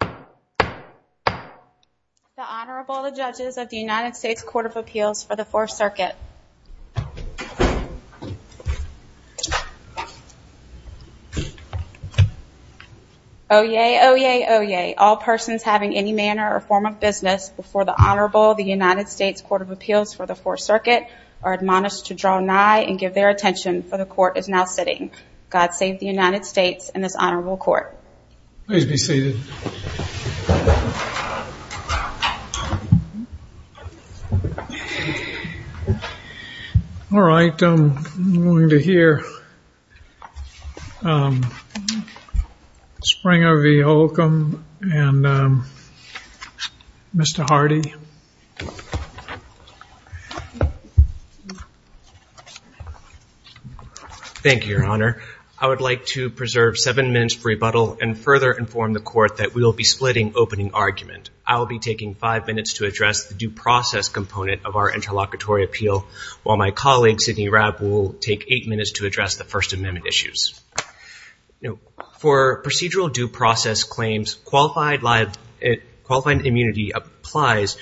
The Honorable, the Judges of the United States Court of Appeals for the Fourth Circuit. Oyez, oyez, oyez, all persons having any manner or form of business before the Honorable of the United States Court of Appeals for the Fourth Circuit are admonished to draw nigh and give their attention, for the Court is now sitting. God save the United States and this Honorable Court. Please be seated. All right, I'm going to hear Springer v. Holcomb and Mr. Hardy. Thank you, Your Honor. I would like to preserve seven minutes for rebuttal and further inform the Court that we will be splitting opening argument. I will be taking five minutes to address the due process component of our interlocutory appeal, while my colleague, Sidney Rapp, will take eight minutes to address the First Amendment issues. For procedural due process claims, qualified immunity applies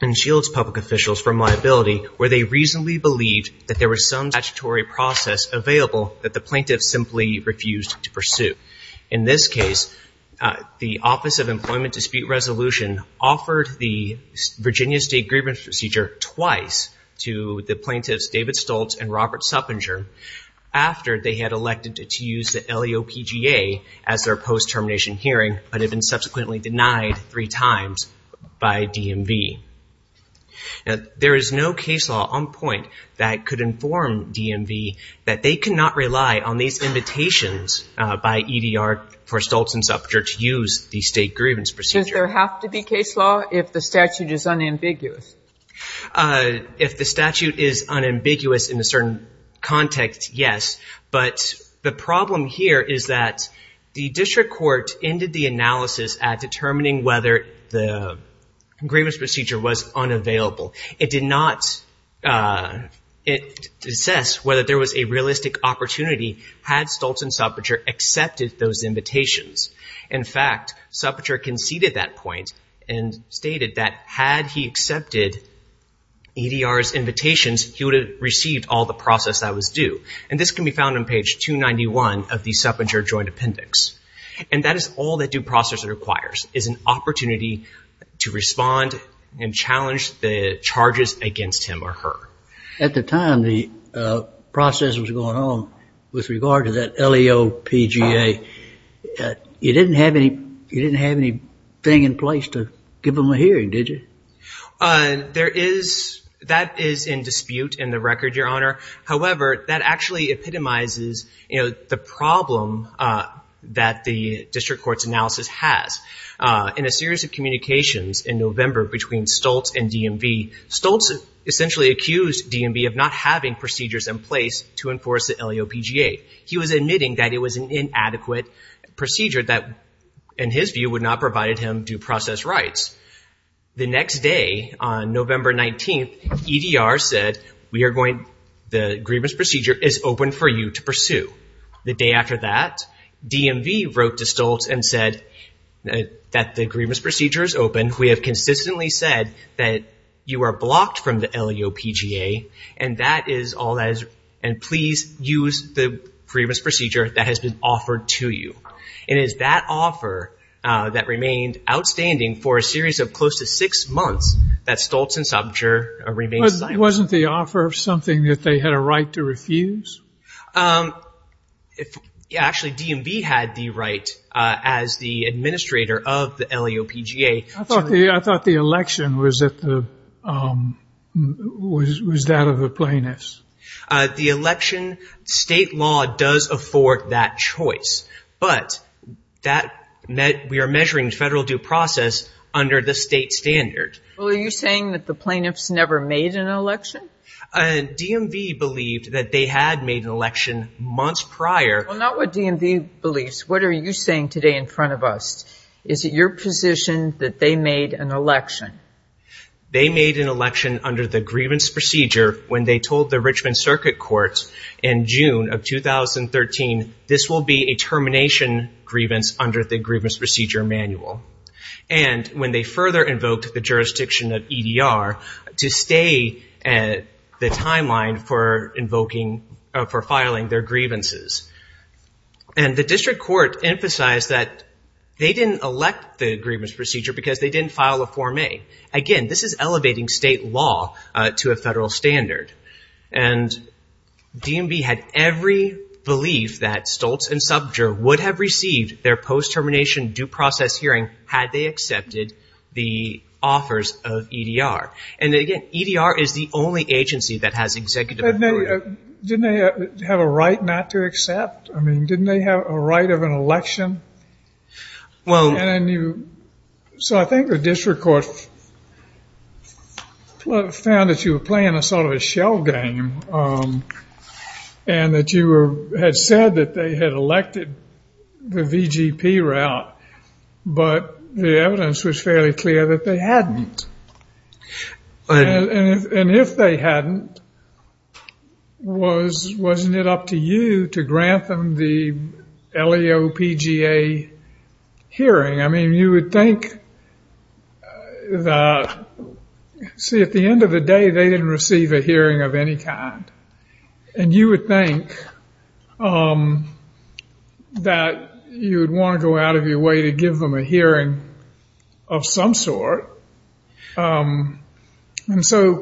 and shields public officials from liability where they reasonably believe that there was some statutory process available that the plaintiff simply refused to pursue. In this case, the Office of Employment Dispute Resolution offered the Virginia State Grievance Procedure twice to the plaintiffs, David Stoltz and Robert Suppenger, after they had elected to use the LEOPGA at their post-termination hearing but had been subsequently denied three times by DMV. There is no case law on point that could inform DMV that they cannot rely on these invitations by EDR for Stoltz and Suppenger to use the State Grievance Procedure. Does there have to be case law if the statute is unambiguous? If the statute is unambiguous in a certain context, yes, but the problem here is that the district court ended the analysis at determining whether the Grievance Procedure was unavailable. It did not assess whether there was a realistic opportunity had Stoltz and Suppenger accepted those invitations. In fact, Suppenger conceded that point and stated that had he accepted EDR's invitations, he would have received all the process that was due. And this can be found on page 291 of the Suppenger Joint Appendix. And that is all that due process requires, is an opportunity to respond and challenge the charges against him or her. At the time the process was going on with regard to that LEO PGA, you didn't have anything in place to give them a hearing, did you? That is in dispute in the record, Your Honor. However, that actually epitomizes the problem that the district court's analysis has. In a series of communications in November between Stoltz and DMV, Stoltz essentially accused DMV of not having procedures in place to enforce the LEO PGA. He was admitting that it was an inadequate procedure that in his view would not provide him due process rights. The next day, on November 19th, EDR said the Grievance Procedure is open for you to pursue. The day after that, DMV wrote to Stoltz and said that the Grievance Procedure is open. We have consistently said that you are blocked from the LEO PGA, and that is all that is, and please use the Grievance Procedure that has been offered to you. And it is that offer that remained outstanding for a series of close to six months that Stoltz and Sopcich remained in line with. Wasn't the offer something that they had a right to refuse? Actually, DMV had the right as the administrator of the LEO PGA. I thought the election was that of the plaintiffs. The election state law does afford that choice, but that meant we are measuring federal due process under the state standards. Well, are you saying that the plaintiffs never made an election? DMV believed that they had made an election months prior. Well, not what DMV believes. What are you saying today in front of us? Is it your position that they made an election? They made an election under the Grievance Procedure when they told the Richmond Circuit Courts in June of 2013, this will be a termination grievance under the Grievance Procedure Manual. And when they further invoked the jurisdiction of EDR to stay at the timeline for invoking, for filing their grievances. And the district court emphasized that they didn't elect the Grievance Procedure because they didn't file a Form A. Again, this is elevating state law to a federal standard. And DMV had every belief that Stoltz and Subterra would have received their post-termination due process hearing had they accepted the offers of EDR. And again, EDR is the only agency that has executive authority. Didn't they have a right not to accept? I mean, didn't they have a right of an election? So I think the district court found that you were playing a sort of a shell game and that you had said that they had elected the VGP route, but the evidence was fairly clear that they hadn't. And if they hadn't, wasn't it up to you to grant them the LAO PGA hearing? I mean, you would think that, see, at the end of the day, they didn't receive a hearing of any kind. And you would think that you would want to go out of your way to give them a hearing of some sort. And so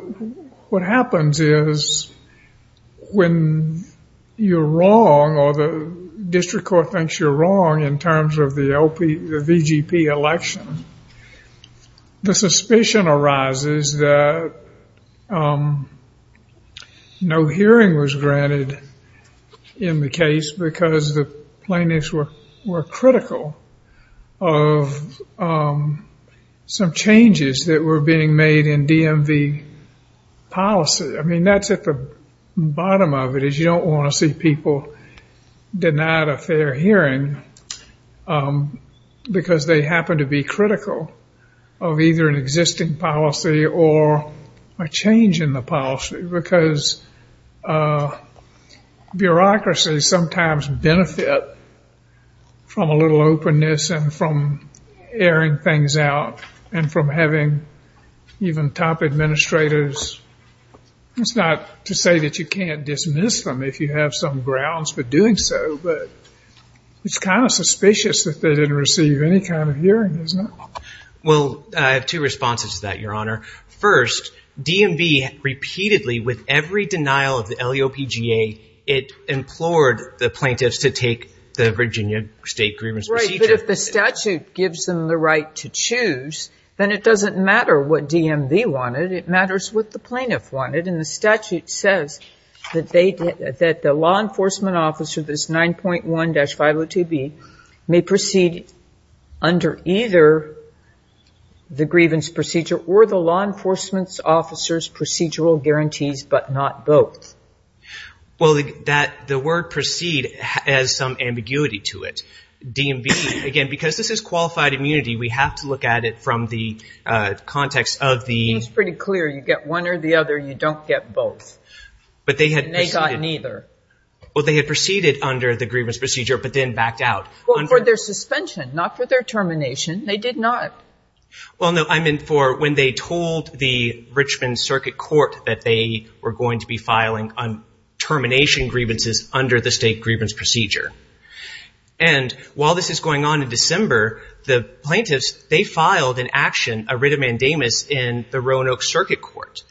what happens is when you're wrong or the district court thinks you're wrong in terms of the VGP election, the suspicion arises that no hearing was granted in the case because the plaintiffs were critical of some changes that were being made in DMV policy. I mean, that's at the bottom of it, is you don't want to see people denied a fair hearing because they happen to be critical of either an existing policy or a change in the policy because bureaucracies sometimes benefit from a little openness and from airing things out and from having even top administrators. It's not to say that you can't dismiss them if you have some grounds for doing so, but it's kind of suspicious that they didn't receive any kind of hearing, isn't it? Well, I have two responses to that, Your Honor. First, DMV repeatedly, with every denial of the LAO PGA, it implored the plaintiffs to take the Virginia state grievance. Right, but if the statute gives them the right to choose, then it doesn't matter what DMV wanted. It matters what the plaintiff wanted, and the statute says that the law enforcement officer, this 9.1-502B, may proceed under either the grievance procedure or the law enforcement officer's procedural guarantees, but not both. Well, the word proceed has some ambiguity to it. DMV, again, because this is qualified immunity, we have to look at it from the context of the... It's pretty clear. You get one or the other. You don't get both. But they had... And they got neither. Well, they had proceeded under the grievance procedure, but then backed out. Well, for their suspension, not for their termination. They did not. Well, no, I mean for when they told the Richmond Circuit Court that they were going to be filing on termination grievances under the state grievance procedure. And while this is going on in December, the plaintiffs, they filed an action, a writ of mandamus, in the Roanoke Circuit Court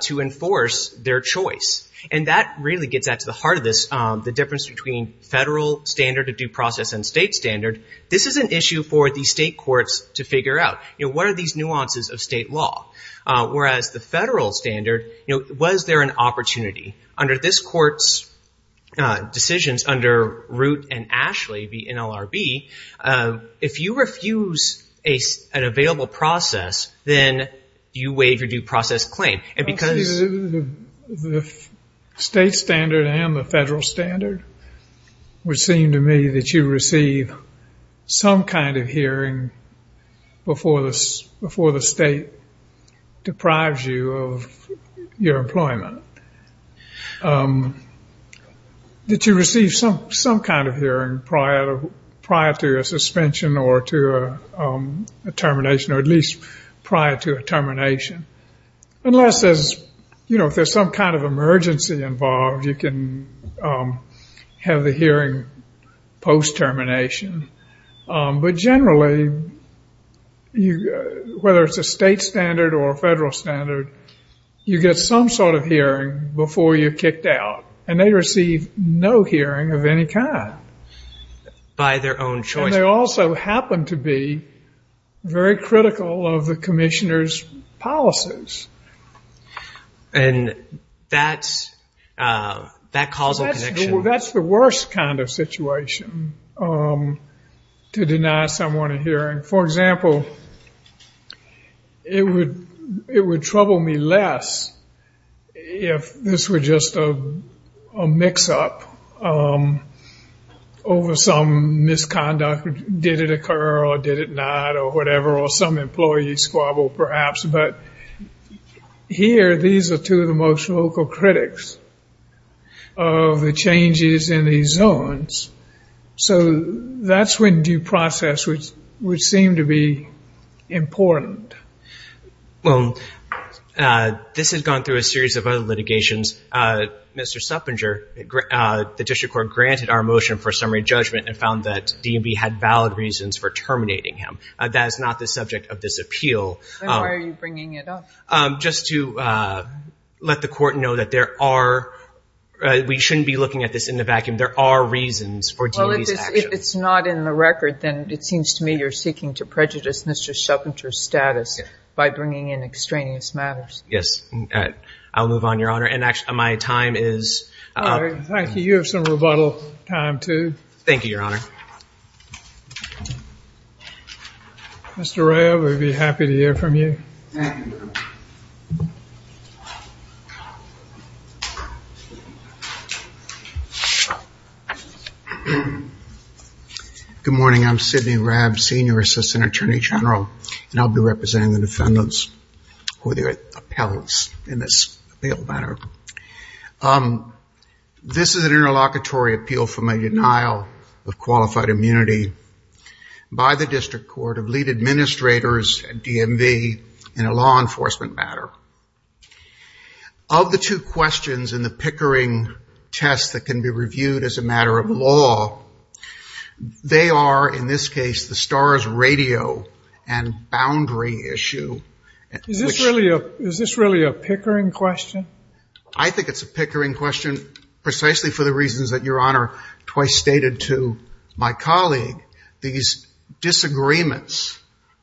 to enforce their choice. And that really gets at the heart of this, the difference between federal standard of due process and state standard. This is an issue for the state courts to figure out. You know, what are these nuances of state law? Whereas the federal standard, was there an opportunity? Under this court's decisions, under Root and Ashley, the NLRB, if you refuse an available process, then you waive your due process claim. And because... The state standard and the federal standard, before the state deprives you of your employment, that you receive some kind of hearing prior to your suspension or to a termination, or at least prior to a termination. Unless there's, you know, if there's some kind of emergency involved, you can have the hearing post-termination. But generally, whether it's a state standard or a federal standard, you get some sort of hearing before you're kicked out. And they receive no hearing of any kind. By their own choice. And they also happen to be very critical of the commissioner's policies. And that's... That causal connection... To deny someone a hearing. For example, it would trouble me less if this were just a mix-up. Over some misconduct, did it occur or did it not, or whatever. Or some employee squabble, perhaps. But here, these are two of the most local critics of the changes in these zones. So, that's when due process would seem to be important. Well, this has gone through a series of other litigations. Mr. Suffringer, the district court granted our motion for summary judgment and found that DMV had valid reasons for terminating him. That is not the subject of this appeal. Then why are you bringing it up? Just to let the court know that there are... We shouldn't be looking at this in the vacuum. There are reasons. If it's not in the record, then it seems to me you're seeking to prejudice Mr. Suffringer's status by bringing in extraneous matters. I'll move on, Your Honor. And actually, my time is... Thank you. You have some rebuttal time, too. Thank you, Your Honor. Mr. Rayl, we'd be happy to hear from you. Good morning. I'm Sidney Rayl, Senior Assistant Attorney General, and I'll be representing the defendants or their appellants in this appeal matter. This is an interlocutory appeal for my denial of qualified immunity by the district court of lead administrators at DMV in a law enforcement matter. Of the two questions in the Pickering test that can be reviewed as a matter of law, they are, in this case, the STARS radio and boundary issue. Is this really a Pickering question? I think it's a Pickering question precisely for the reasons that Your Honor twice stated to my colleague. These disagreements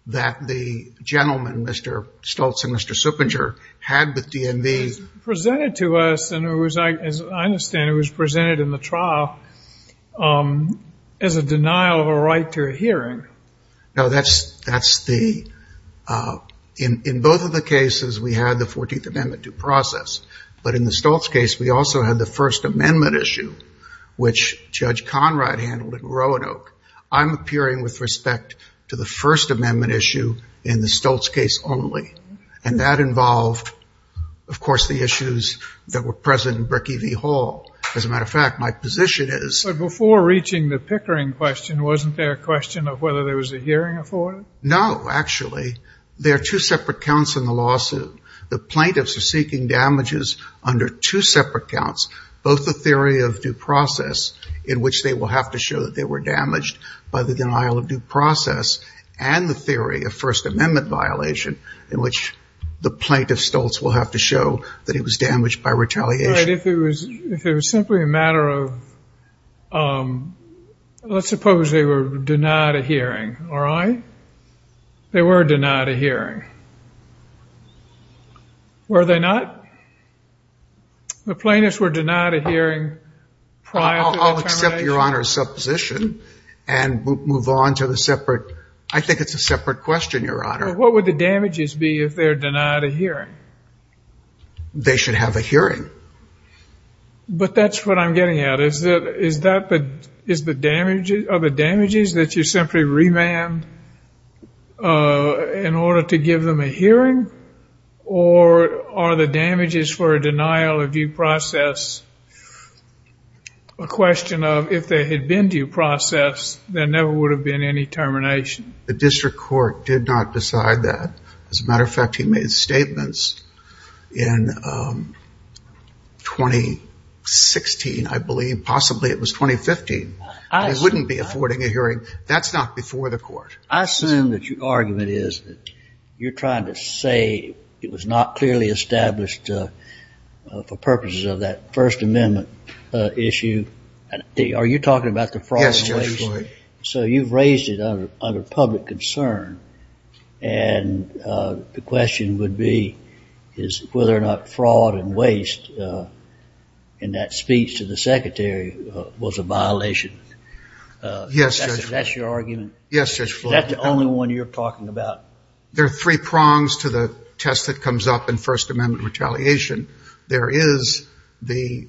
that the gentleman, Mr. Stoltz and Mr. Suffringer, had with DMV... Presented to us, and as I understand, it was presented in the trial as a denial of a right to a hearing. No, that's the... In both of the cases, we had the 14th Amendment due process. But in the Stoltz case, we also had the First Amendment issue, which Judge Conrad handled at Roanoke. I'm appearing with respect to the First Amendment issue in the Stoltz case only. And that involved, of course, the issues that were present in Brickie v. Hall. As a matter of fact, my position is... But before reaching the Pickering question, wasn't there a question of whether there was a hearing afforded? No, actually. There are two separate counts in the lawsuit. The plaintiffs are seeking damages under two separate counts, both the theory of due process, in which they will have to show that they were damaged by the denial of due process, and the theory of First Amendment violation, in which the plaintiff, Stoltz, will have to show that he was damaged by retaliation. But if it was simply a matter of... Let's suppose they were denied a hearing, all right? They were denied a hearing. Were they not? The plaintiffs were denied a hearing prior to... I'll accept Your Honor's supposition and move on to the separate... I think it's a separate question, Your Honor. What would the damages be if they're denied a hearing? They should have a hearing. But that's what I'm getting at. Is that the... Or are the damages for a denial of due process a question of if they had been due processed, there never would have been any termination? The district court did not decide that. As a matter of fact, he made statements in 2016, I believe. Possibly it was 2015. They wouldn't be affording a hearing. That's not before the court. I assume that your argument is that you're trying to say it was not clearly established for purposes of that First Amendment issue. Are you talking about the fraud and waste? Yes, Judge. So you've raised it under public concern. And the question would be whether or not fraud and waste in that speech to the secretary was a violation. Yes, Judge. That's your argument? Yes, Judge Floyd. That's the only one you're talking about? There are three prongs to the test that comes up in First Amendment retaliation. There is the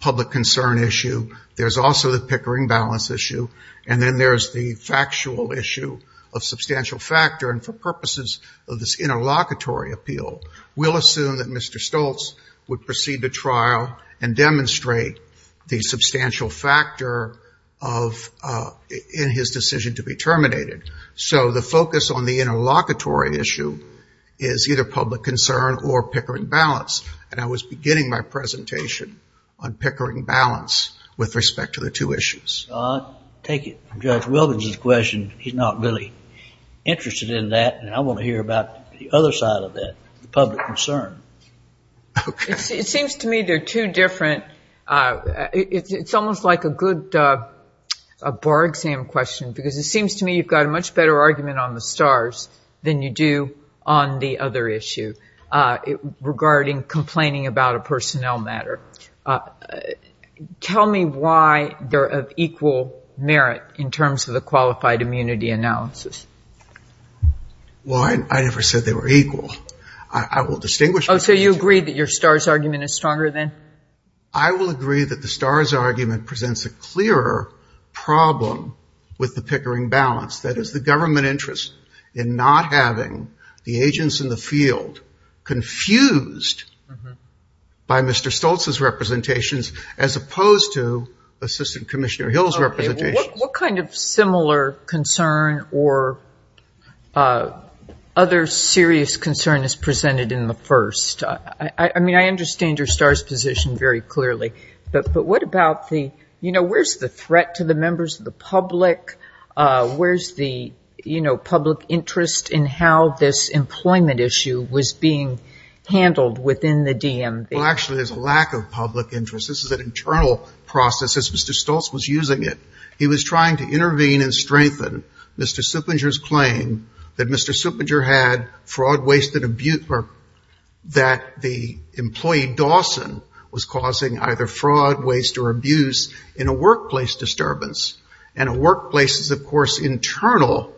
public concern issue. There's also the Pickering balance issue. And then there's the factual issue of substantial factor. And for purposes of this interlocutory appeal, we'll assume that Mr. Stoltz would proceed to trial and demonstrate the substantial factor in his decision to be terminated. So the focus on the interlocutory issue is either public concern or Pickering balance. And I was beginning my presentation on Pickering balance with respect to the two issues. I'll take it from Judge Wilbins' question. He's not really interested in that. And I want to hear about the other side of that, the public concern. It seems to me they're two different. It's almost like a good bar exam question because it seems to me you've got a much better argument on the stars than you do on the other issue regarding complaining about a personnel matter. Tell me why they're of equal merit in terms of the qualified immunity analysis. Well, I never said they were equal. I will distinguish. So you agree that your stars argument is stronger then? I will agree that the stars argument presents a clearer problem with the Pickering balance. That is the government interest in not having the agents in the field confused by Mr. Stoltz's representations as opposed to Assistant Commissioner Hill's representations. What kind of similar concern or other serious concern is presented in the first? I mean, I understand your stars position very clearly. But what about the, you know, where's the threat to the members of the public? Where's the, you know, public interest in how this employment issue was being handled within the DMV? Well, actually, there's a lack of public interest. This is an internal process. Mr. Stoltz was using it. He was trying to intervene and strengthen Mr. Suppenger's claim that Mr. Suppenger had fraud, waste and abuse. Or that the employee Dawson was causing either fraud, waste or abuse in a workplace disturbance. And a workplace is, of course, internal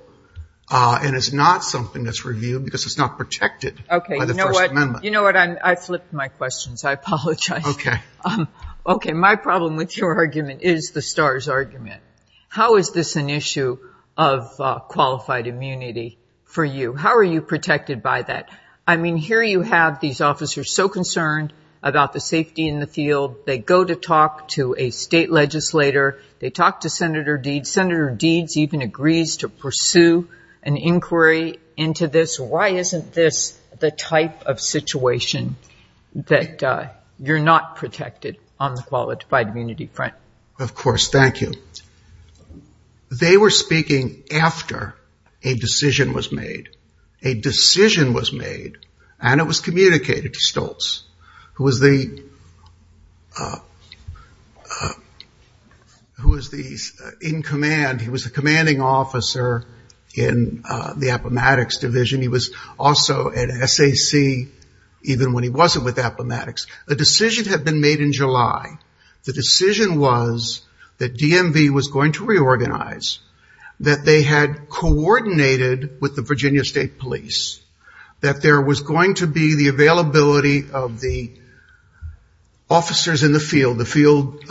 and is not something that's reviewed because it's not protected. OK, you know what? You know what? I flipped my questions. I apologize. OK. My problem with your argument is the stars argument. How is this an issue of qualified immunity for you? How are you protected by that? I mean, here you have these officers so concerned about the safety in the field. They go to talk to a state legislator. They talk to Senator Deeds. Senator Deeds even agrees to pursue an inquiry into this. What is the type of situation that you're not protected on the qualified immunity front? Of course. Thank you. They were speaking after a decision was made. A decision was made. And it was communicated to Stoltz, who was the in command. He was the commanding officer in the Appomattox division. He was also at SAC even when he wasn't with Appomattox. A decision had been made in July. The decision was that DMV was going to reorganize, that they had coordinated with the Virginia State Police, that there was going to be the availability of the officers in the field, the field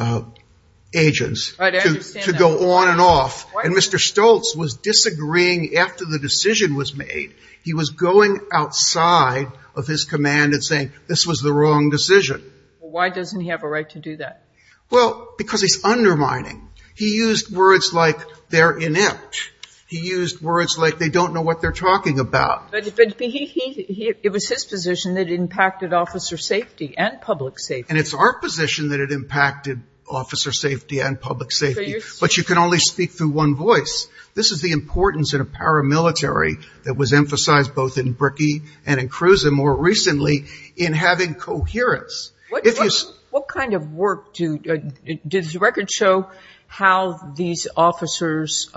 agents, to go on and off. And Mr. Stoltz was disagreeing after the decision was made. He was going outside of his command and saying this was the wrong decision. Why doesn't he have a right to do that? Well, because he's undermining. He used words like they're inept. He used words like they don't know what they're talking about. But it was his position that impacted officer safety and public safety. And it's our position that it impacted officer safety and public safety. But you can only speak through one voice. This is the importance in a paramilitary that was emphasized both in Brickey and in Cruz and more recently in having coherence. What kind of work do the records show how these officers,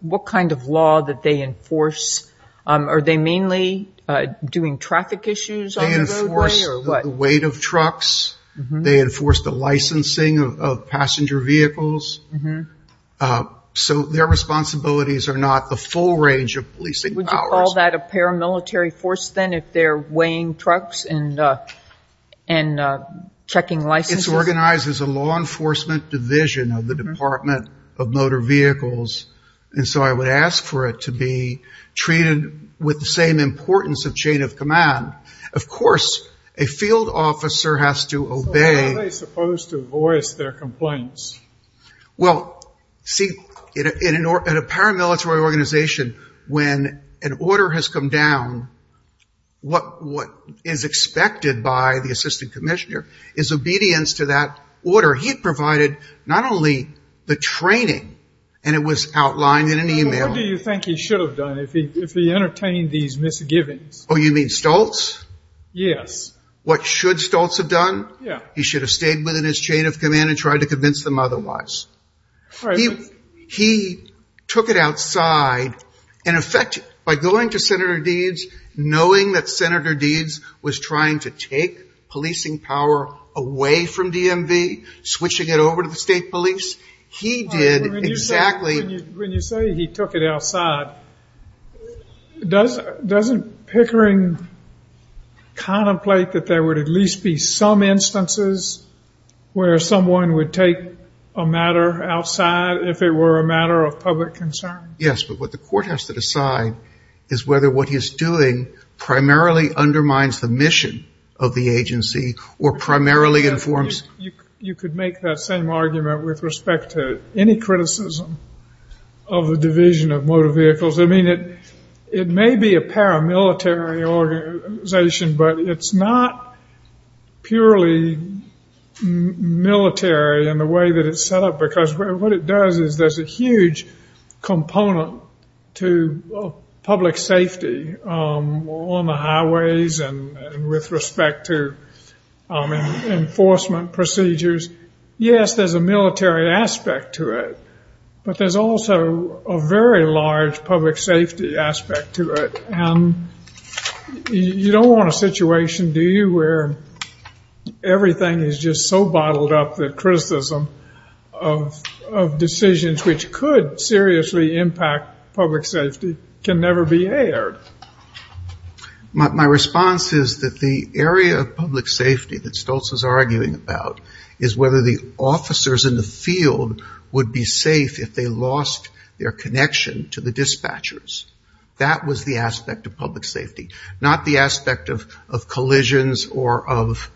what kind of law that they enforce? Are they mainly doing traffic issues on the roadway? They enforce the weight of trucks. They enforce the licensing of passenger vehicles. So their responsibilities are not the full range of policing powers. Would you call that a paramilitary force then if they're weighing trucks and checking licenses? It's organized as a law enforcement division of the Department of Motor Vehicles. And so I would ask for it to be treated with the same importance of chain of command. Of course, a field officer has to obey. How are they supposed to voice their complaints? Well, see, in a paramilitary organization, when an order has come down, what is expected by the assistant commissioner is obedience to that order. He provided not only the training, and it was outlined in an email. What do you think he should have done if he entertained these misgivings? Oh, you mean Stoltz? Yes. What should Stoltz have done? Yeah. He should have stayed within his chain of command and tried to convince them otherwise. Right. He took it outside. In effect, by going to Senator Deeds, knowing that Senator Deeds was trying to take policing power away from DMV, switching it over to the state police, he did exactly... Does the stickering contemplate that there would at least be some instances where someone would take a matter outside if it were a matter of public concern? Yes. But what the court has to decide is whether what he's doing primarily undermines the mission of the agency or primarily informs... You could make that same argument with respect to any criticism of a division of motor vehicles. I mean, it may be a paramilitary organization, but it's not purely military in the way that it's set up. Because what it does is there's a huge component to public safety on the highways and with respect to enforcement procedures. Yes, there's a military aspect to it, but there's also a very large public safety aspect to it. And you don't want a situation, do you, where everything is just so bottled up that criticism of decisions which could seriously impact public safety can never be aired? My response is that the area of public safety that Stoltz is arguing about is whether the officers in the field would be safe if they lost their connection to the dispatchers. That was the aspect of public safety, not the aspect of collisions or of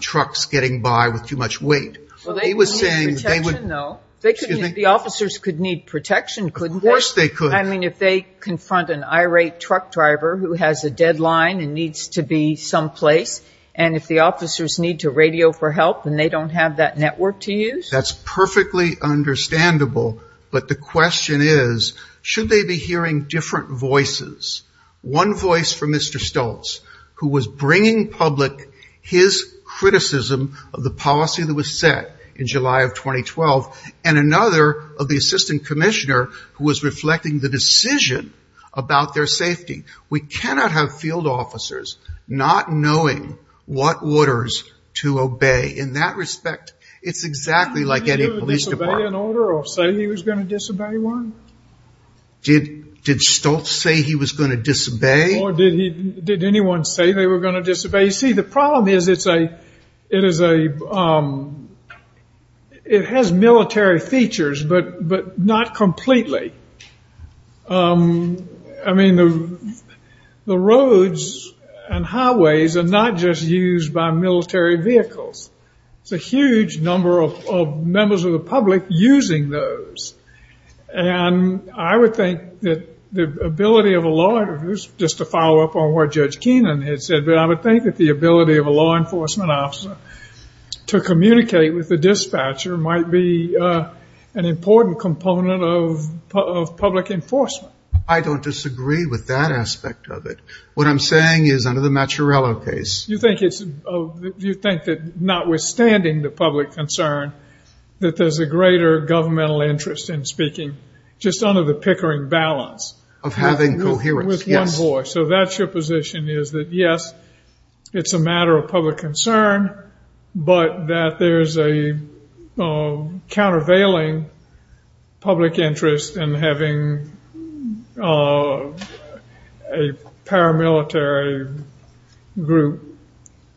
trucks getting by with too much weight. Well, they would need protection, though. The officers could need protection, couldn't they? Of course they could. I mean, if they confront an irate truck driver who has a deadline and needs to be someplace, and if the officers need to radio for help and they don't have that network to use? That's perfectly understandable. But the question is, should they be hearing different voices? One voice from Mr. Stoltz, who was bringing public his criticism of the policy that was set in July of 2012, and another of the assistant commissioner, who was reflecting the decision about their safety. We cannot have field officers not knowing what orders to obey. In that respect, it's exactly like any police department. Did Stoltz say he was going to disobey one? Did Stoltz say he was going to disobey? Or did anyone say they were going to disobey? See, the problem is it has military features, but not completely. I mean, the roads and highways are not just used by military vehicles. There's a huge number of members of the public using those. And I would think that the ability of a law enforcement officer to communicate with the dispatcher might be an important component of public enforcement. I don't disagree with that aspect of it. What I'm saying is under the Mazzarella case. You think that notwithstanding the public concern, that there's a greater governmental interest in speaking just under the Pickering balance? Of having coherence. With one voice. So that's your position is that, yes, it's a matter of public concern. But that there's a countervailing public interest in having a paramilitary group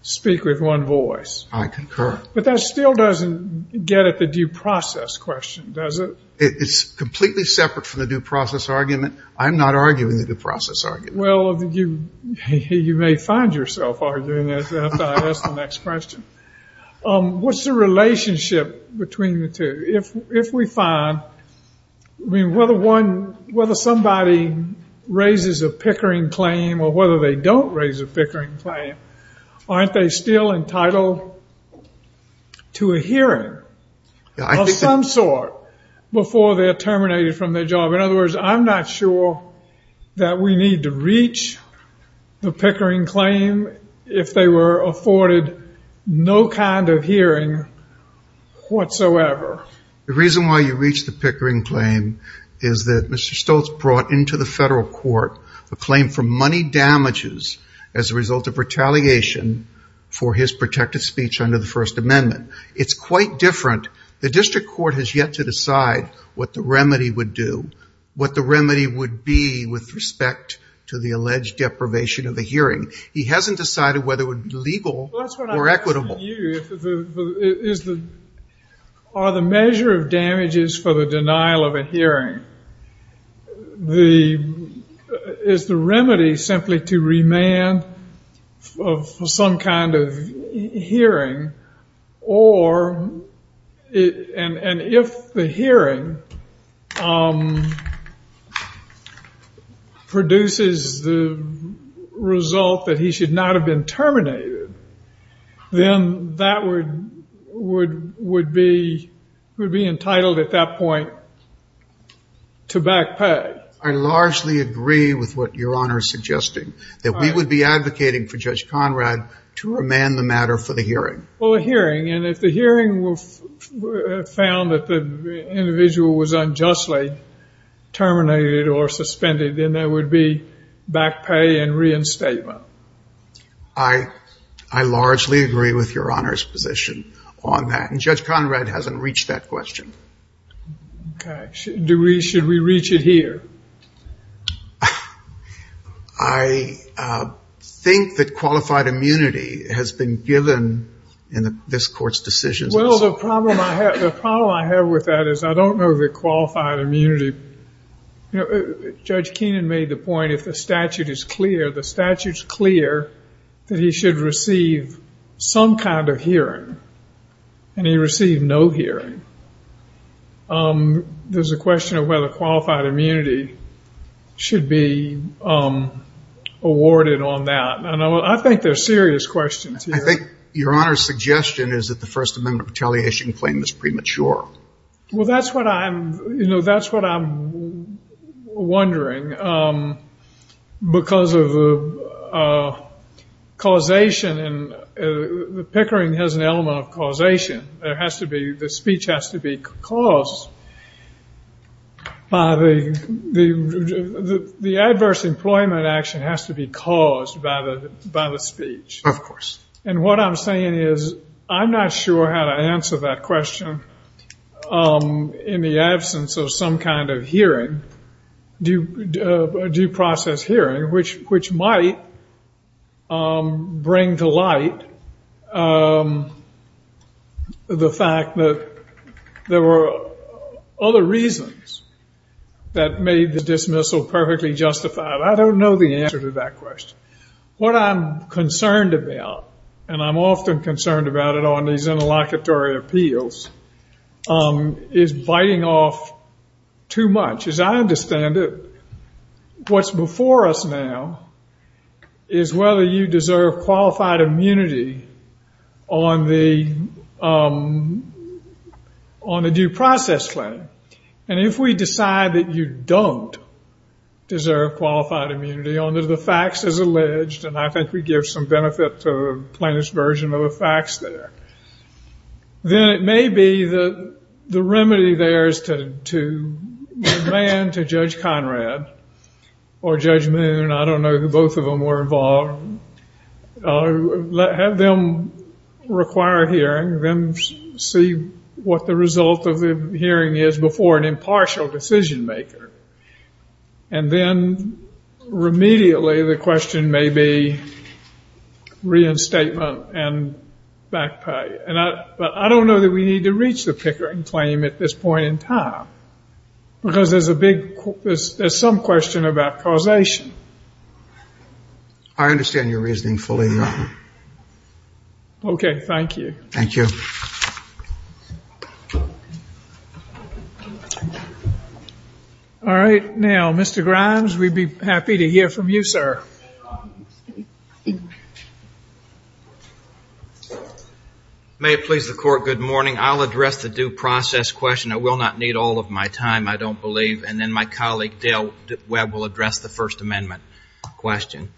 speak with one voice. I concur. But that still doesn't get at the due process question, does it? It's completely separate from the due process argument. I'm not arguing the due process argument. Well, you may find yourself arguing it after I ask the next question. What's the relationship between the two? If we find, I mean, whether somebody raises a Pickering claim or whether they don't raise a Pickering claim, aren't they still entitled to a hearing of some sort before they're terminated from their job? In other words, I'm not sure that we need to reach the Pickering claim if they were afforded no kind of hearing whatsoever. The reason why you reach the Pickering claim is that Mr. Stoltz brought into the federal court a claim for money damages as a result of retaliation for his protected speech under the First Amendment. It's quite different. The district court has yet to decide what the remedy would do, what the remedy would be with respect to the alleged deprivation of a hearing. He hasn't decided whether it would be legal or equitable. Are the measure of damages for the denial of a hearing, is the remedy simply to remand some kind of hearing? And if the hearing produces the result that he should not have been terminated, then that would be entitled at that point to backpack. I largely agree with what Your Honor is suggesting, that we would be advocating for Judge Conrad to remand the matter for the hearing. Well, the hearing, and if the hearing found that the individual was unjustly terminated or suspended, then there would be backpay and reinstatement. I largely agree with Your Honor's position on that, and Judge Conrad hasn't reached that question. Should we reach it here? I think that qualified immunity has been given in this court's decision. Well, the problem I have with that is I don't know the qualified immunity. Judge Keenan made the point that the statute is clear. The statute is clear that he should receive some kind of hearing, and he received no hearing. There's a question of whether qualified immunity should be awarded on that. I think there's serious questions here. I think Your Honor's suggestion is that the First Amendment retaliation claim is premature. Well, that's what I'm wondering, because of causation. Pickering has an element of causation. The speech has to be caused. The adverse employment action has to be caused by the speech. Of course. And what I'm saying is I'm not sure how to answer that question in the absence of some kind of hearing, due process hearing, which might bring to light the fact that there were other reasons that made the dismissal perfectly justified. I don't know the answer to that question. What I'm concerned about, and I'm often concerned about it on these interlocutory appeals, is biting off too much. As I understand it, what's before us now is whether you deserve qualified immunity on the due process claim. And if we decide that you don't deserve qualified immunity under the facts as alleged, and I think we give some benefit to the plaintiff's version of the facts there, then it may be that the remedy there is to demand to Judge Conrad or Judge Moon, I don't know who both of them were involved, have them require hearing, then see what the result of the hearing is before an impartial decision maker. And then, immediately, the question may be reinstatement and back pay. But I don't know that we need to reach the Pickering claim at this point in time. Because there's some question about causation. I understand your reasoning fully, Your Honor. Okay. Thank you. Thank you. All right. Now, Mr. Grimes, we'd be happy to hear from you, sir. May it please the Court, good morning. I'll address the due process question. I will not need all of my time, I don't believe. And then my colleague, Dale Webb, will address the First Amendment question.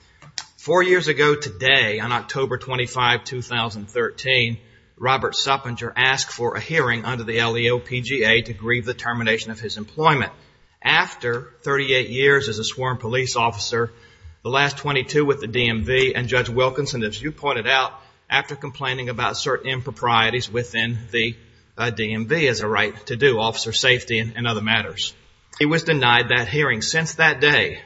Four years ago today, on October 25, 2013, Robert Suppenger asked for a hearing under the LEOPGA to grieve the termination of his employment. After 38 years as a sworn police officer, the last 22 with the DMV, and Judge Wilkinson, as you pointed out, after complaining about certain improprieties within the DMV, he has a right to do officer safety and other matters. He was denied that hearing. Since that day,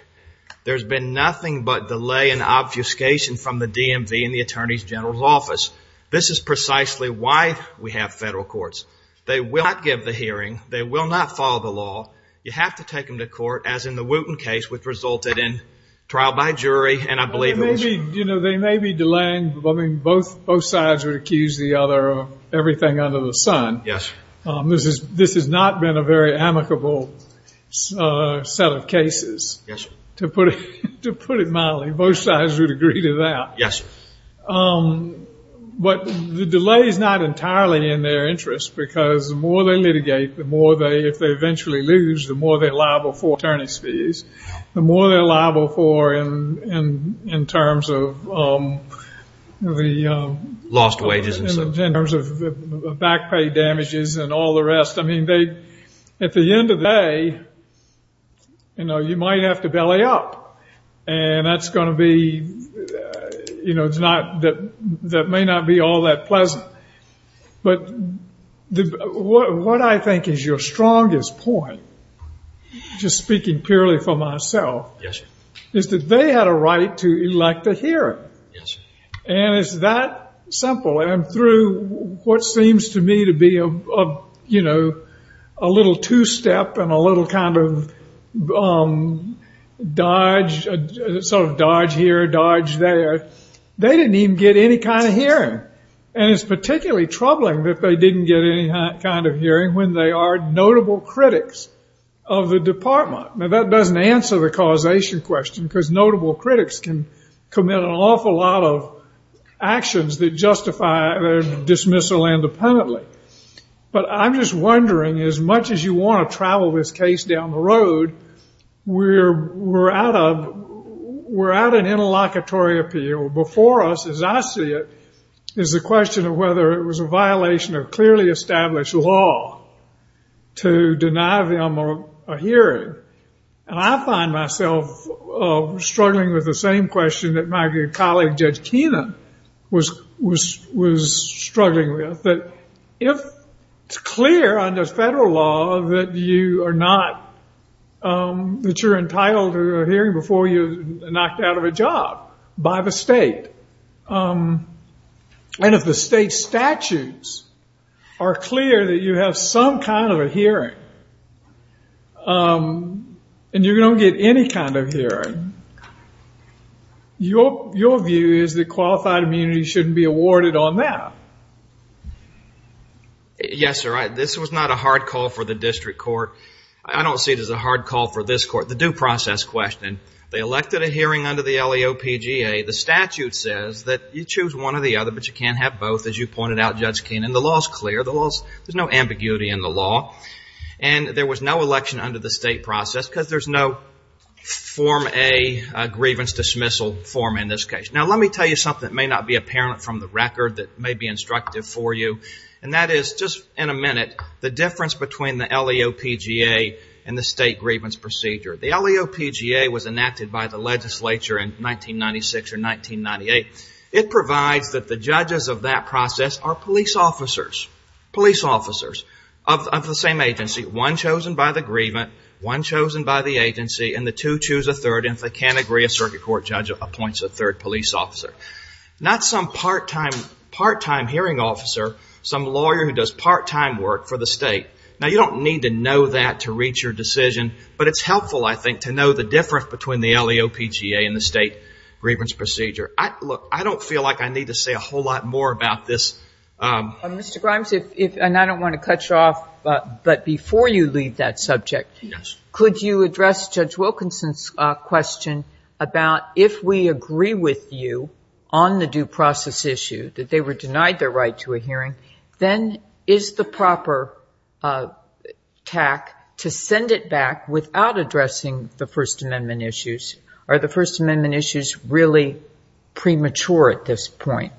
there's been nothing but delay and obfuscation from the DMV and the Attorney General's office. This is precisely why we have federal courts. They will not give the hearing. They will not follow the law. You have to take them to court, as in the Wooten case, which resulted in trial by jury, and I believe... You know, they may be delaying. Both sides would accuse the other of everything under the sun. Yes. This has not been a very amicable set of cases, to put it mildly. Both sides would agree to that. Yes. But the delay is not entirely in their interest, because the more they litigate, the more they... If they eventually lose, the more they're liable for attorney's fees, the more they're liable for in terms of the... Lost wages. In terms of back pay damages and all the rest. I mean, they... At the end of the day, you know, you might have to belly up, and that's going to be... You know, it's not... That may not be all that pleasant. But what I think is your strongest point, just speaking purely for myself, is that they had a right to elect a hearing. And it's that simple. And through what seems to me to be, you know, a little two-step and a little kind of dodge, sort of dodge here, dodge there, they didn't even get any kind of hearing. And it's particularly troubling that they didn't get any kind of hearing when they are notable critics of the department. Now, that doesn't answer the causation question, because notable critics can commit an awful lot of actions that justify their dismissal independently. But I'm just wondering, as much as you want to travel this case down the road, we're at an interlocutory appeal. Before us, as I see it, is the question of whether it was a violation of clearly established law to deny them a hearing. And I find myself struggling with the same question that my good colleague, Judge Keenan, was struggling with. But if it's clear under federal law that you're entitled to a hearing before you're knocked out of a job by the state, and if the state statutes are clear that you have some kind of a hearing and you don't get any kind of hearing, your view is that qualified immunity shouldn't be awarded on that. Yes, sir, this was not a hard call for the district court. I don't see it as a hard call for this court. The due process question. They elected a hearing under the LEOPGA. The statute says that you choose one or the other, but you can't have both, as you pointed out, Judge Keenan. The law is clear. There's no ambiguity in the law. And there was no election under the state process because there's no Form A grievance dismissal form in this case. Now, let me tell you something that may not be apparent from the record that may be instructive for you, and that is, just in a minute, the difference between the LEOPGA and the state grievance procedure. The LEOPGA was enacted by the legislature in 1996 or 1998. It provides that the judges of that process are police officers of the same agency, one chosen by the grievance, one chosen by the agency, and the two choose a third, and if they can't agree, a circuit court judge appoints a third police officer. Not some part-time hearing officer, some lawyer who does part-time work for the state. Now, you don't need to know that to reach your decision, but it's helpful, I think, to know the difference between the LEOPGA and the state grievance procedure. Look, I don't feel like I need to say a whole lot more about this. Mr. Grimes, and I don't want to cut you off, but before you leave that subject, could you address Judge Wilkinson's question about if we agree with you on the due process issue, that they were denied their right to a hearing, then is the proper tact to send it back without addressing the First Amendment issues? Are the First Amendment issues really premature at this point?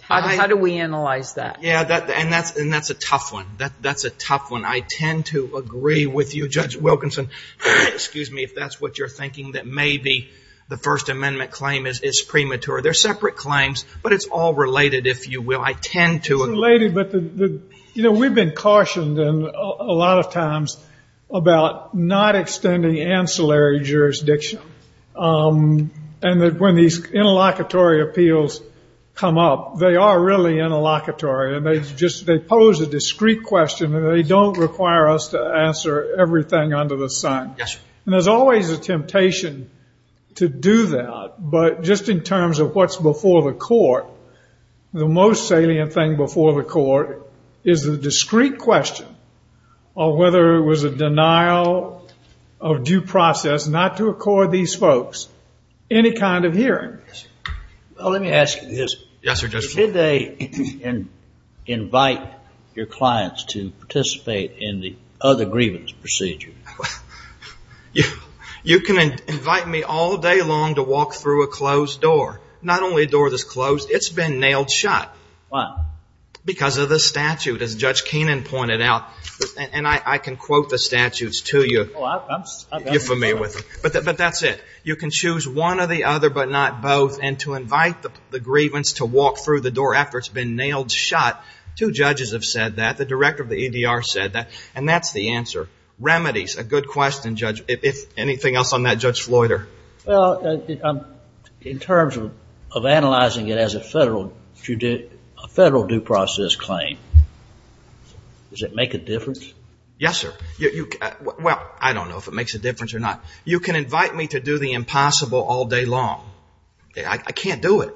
How do we analyze that? Yeah, and that's a tough one. That's a tough one. I tend to agree with you, Judge Wilkinson. Excuse me if that's what you're thinking, that maybe the First Amendment claim is premature. They're separate claims, but it's all related, if you will. I tend to agree. You know, we've been cautioned a lot of times about not extending ancillary jurisdiction and that when these interlocutory appeals come up, they are really interlocutory and they pose a discrete question and they don't require us to answer everything under the sun. And there's always a temptation to do that, but just in terms of what's before the court, the most salient thing before the court is the discrete question of whether it was a denial of due process not to accord these folks any kind of hearing. Let me ask you this. Did they invite your clients to participate in the other grievance procedure? You can invite me all day long to walk through a closed door. Not only a door that's closed, it's been nailed shut. Why? Because of the statute, as Judge Keenan pointed out. And I can quote the statutes to you if you're familiar with them. But that's it. You can choose one or the other but not both. And to invite the grievance to walk through the door after it's been nailed shut, two judges have said that, the director of the EDR said that, and that's the answer. Remedies, a good question, Judge. Anything else on that, Judge Floyder? Well, in terms of analyzing it as a federal due process claim, does it make a difference? Yes, sir. Well, I don't know if it makes a difference or not. You can invite me to do the impossible all day long. I can't do it.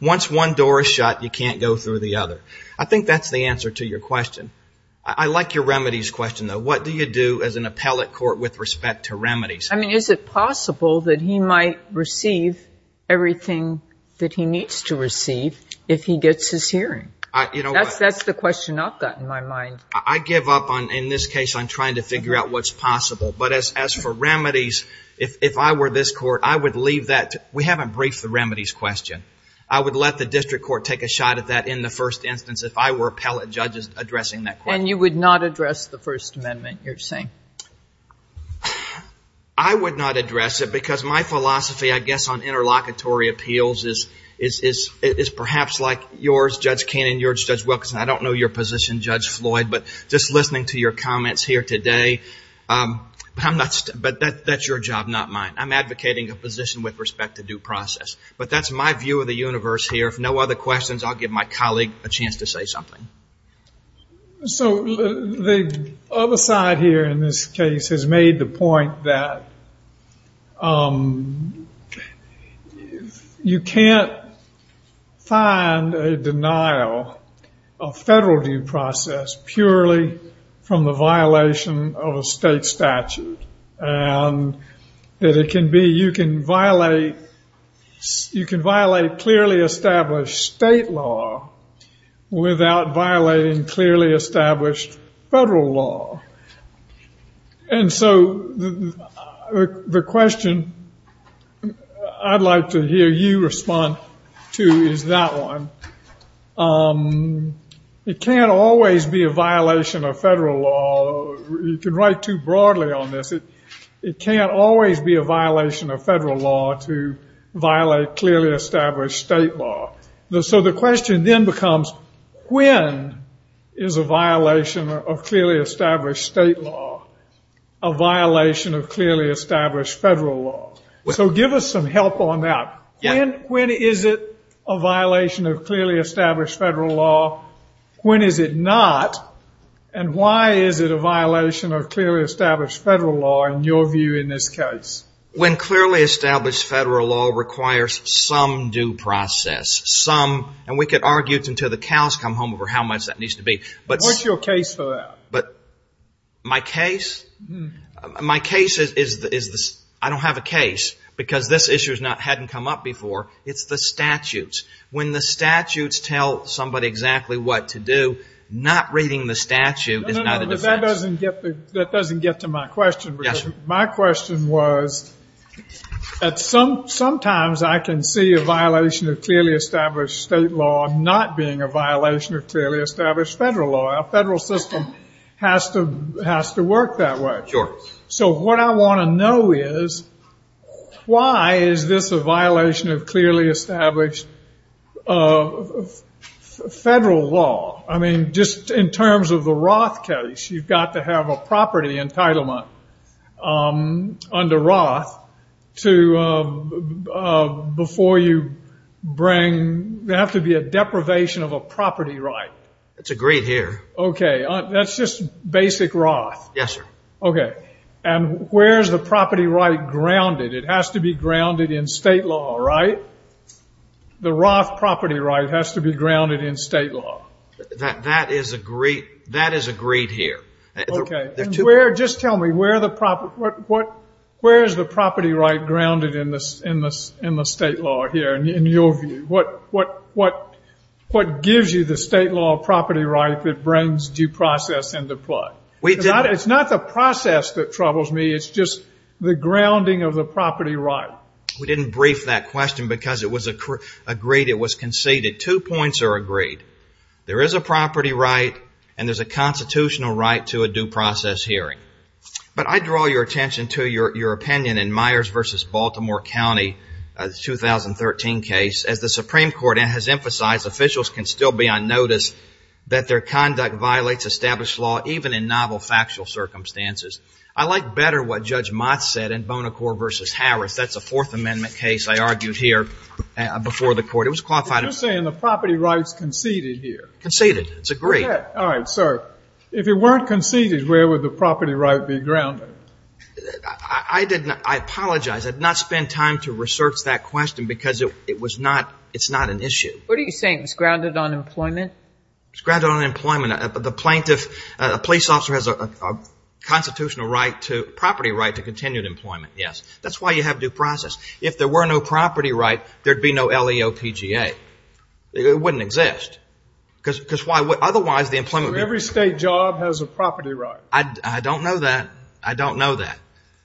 Once one door is shut, you can't go through the other. I think that's the answer to your question. I like your remedies question, though. What do you do as an appellate court with respect to remedies? I mean, is it possible that he might receive everything that he needs to receive if he gets his hearing? That's the question I've got in my mind. I give up on, in this case, on trying to figure out what's possible. But as for remedies, if I were this court, I would leave that. We haven't briefed the remedies question. I would let the district court take a shot at that in the first instance if I were appellate judges addressing that question. And you would not address the First Amendment, you're saying? I would not address it because my philosophy, I guess, on interlocutory appeals is perhaps like yours, Judge Cannon, yours, Judge Wilkinson. I don't know your position, Judge Floyd, but just listening to your comments here today, but that's your job, not mine. I'm advocating a position with respect to due process, but that's my view of the universe here. If no other questions, I'll give my colleague a chance to say something. So the other side here in this case has made the point that you can't find a denial of federal due process purely from the violation of a state statute. And that it can be, you can violate clearly established state law without violating clearly established federal law. And so the question I'd like to hear you respond to is that one. It can't always be a violation of federal law. You can write too broadly on this. It can't always be a violation of federal law to violate clearly established state law. So the question then becomes when is a violation of clearly established state law a violation of clearly established federal law? So give us some help on that. When is it a violation of clearly established federal law? When is it not? And why is it a violation of clearly established federal law in your view in this case? When clearly established federal law requires some due process. Some, and we could argue until the cows come home over how much that needs to be. What's your case for that? But my case, my case is I don't have a case because this issue hasn't come up before. It's the statutes. When the statutes tell somebody exactly what to do, not reading the statute is not a defense. That doesn't get to my question. My question was that sometimes I can see a violation of clearly established state law not being a violation of clearly established federal law. A federal system has to work that way. Sure. So what I want to know is why is this a violation of clearly established federal law? I mean, just in terms of the Roth case, you've got to have a property entitlement under Roth to, before you bring, there has to be a deprivation of a property right. It's agreed here. Okay. That's just basic Roth? Yes, sir. Okay. And where is the property right grounded? It has to be grounded in state law, right? The Roth property right has to be grounded in state law. That is agreed here. Okay. Just tell me, where is the property right grounded in the state law here, in your view? What gives you the state law property right that brings due process into play? It's not the process that troubles me. It's just the grounding of the property right. We didn't brief that question because it was agreed. It was conceded. Two points are agreed. There is a property right and there's a constitutional right to a due process hearing. But I draw your attention to your opinion in Myers v. Baltimore County, a 2013 case. As the Supreme Court has emphasized, officials can still be on notice that their conduct violates established law, even in novel factual circumstances. I like better what Judge Mott said in Bonacore v. Harris. That's a Fourth Amendment case, I argued here before the court. You're saying the property right is conceded here. Conceded. It's agreed. All right, sir. If it weren't conceded, where would the property right be grounded? I apologize. I did not spend time to research that question because it's not an issue. What are you saying? It's grounded on employment? It's grounded on employment. The police officer has a constitutional right, property right, to continued employment, yes. That's why you have due process. If there were no property right, there'd be no LEOPGA. It wouldn't exist. Because otherwise the employment... Every state job has a property right. I don't know that. I don't know that.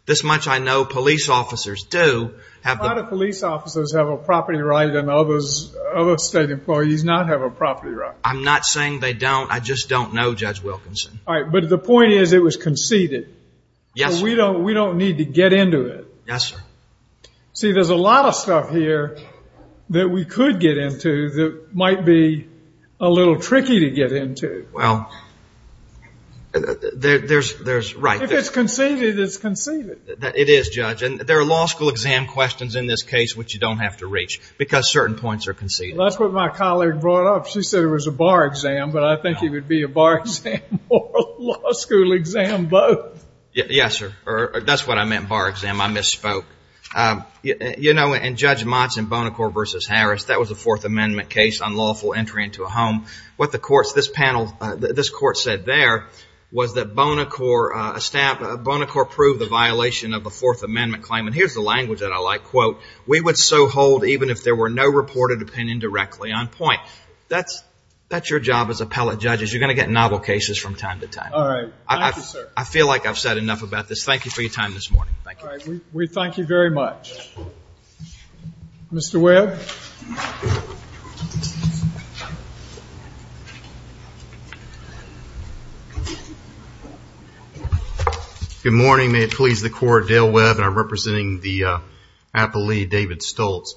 This much I know police officers do. A lot of police officers have a property right and other state employees not have a property right. I'm not saying they don't. I just don't know, Judge Wilkinson. All right, but the point is it was conceded. Yes, sir. So we don't need to get into it. Yes, sir. See, there's a lot of stuff here that we could get into that might be a little tricky to get into. Well, there's... If it's conceded, it's conceded. It is, Judge, and there are law school exam questions in this case which you don't have to reach because certain points are conceded. That's what my colleague brought up. She said it was a bar exam, but I think it would be a bar exam or a law school exam both. Yes, sir. That's what I meant, bar exam. I misspoke. You know, in Judge Monson, Bonacore v. Harris, that was a Fourth Amendment case on lawful entry into a home. What this court said there was that Bonacore approved the violation of a Fourth Amendment claim, and here's the language that I like, quote, we would so hold even if there were no reported opinion directly on point. That's your job as appellate judges. You're going to get novel cases from time to time. All right. Thank you, sir. I feel like I've said enough about this. Thank you for your time this morning. All right. We thank you very much. Mr. Webb? Good morning. May it please the Court, Dale Webb, and I'm representing the appellee, David Stoltz.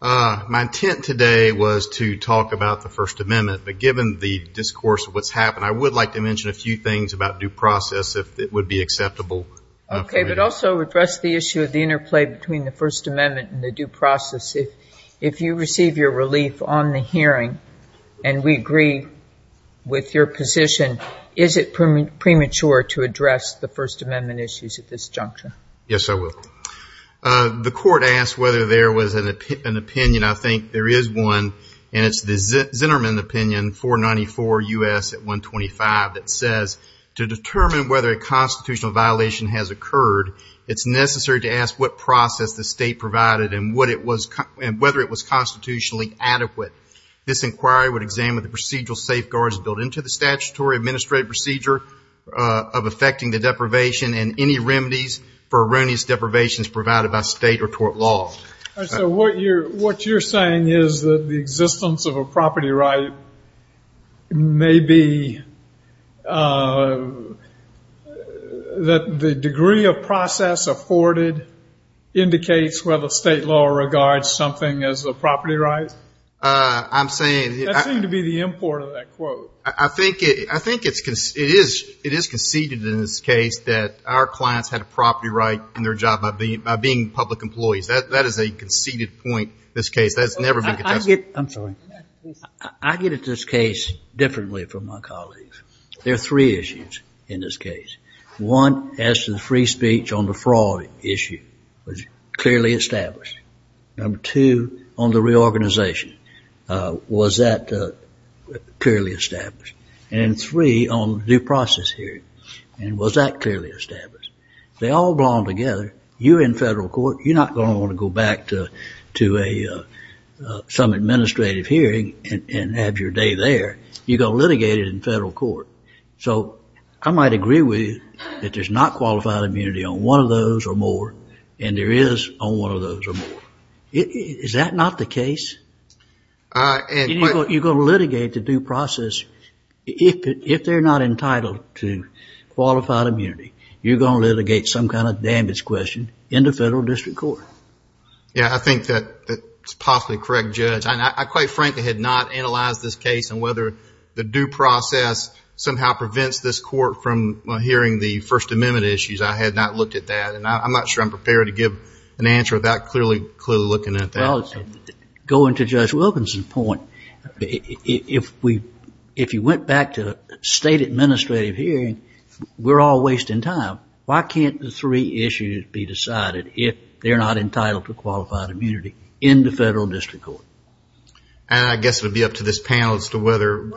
My intent today was to talk about the First Amendment, but given the discourse of what's happened, I would like to mention a few things about due process if it would be acceptable. Okay. But also address the issue of the interplay between the First Amendment and the due process. If you receive your relief on the hearing, and we agree with your position, is it premature to address the First Amendment issues at this juncture? Yes, I will. The court asked whether there was an opinion. I think there is one, and it's the Zinnerman opinion, 494 U.S. at 125, that says to determine whether a constitutional violation has occurred, it's necessary to ask what process the state provided and whether it was constitutionally adequate. This inquiry would examine the procedural safeguards built into the statutory administrative procedure of affecting the deprivation and any remedies for erroneous deprivations provided by state or court laws. So what you're saying is that the existence of a property right may be that the degree of process afforded indicates whether state law regards something as a property right? I'm saying... That seemed to be the import of that quote. I think it is conceded in this case that our clients had a property right in their job by being public employees. That is a conceded point in this case. I get at this case differently from my colleagues. There are three issues in this case. One, as to the free speech on the fraud issue was clearly established. Number two, on the reorganization, was that clearly established? And three, on the due process hearing, was that clearly established? They all belong together. You're in federal court. You're not going to want to go back to some administrative hearing and have your day there. You're going to litigate it in federal court. So I might agree with you that there's not qualified immunity on one of those or more and there is on one of those or more. Is that not the case? You're going to litigate the due process if they're not entitled to qualified immunity. You're going to litigate some kind of damage question in the federal district court. Yeah, I think that's possibly correct, Judge. I quite frankly had not analyzed this case and whether the due process somehow prevents this court from hearing the First Amendment issues. I had not looked at that and I'm not sure I'm prepared to give an answer about clearly looking at that. Going to Judge Wilkinson's point, if you went back to a state administrative hearing, we're all wasting time. Why can't the three issues be decided if they're not entitled to qualified immunity in the federal district court? I guess it would be up to this panel as to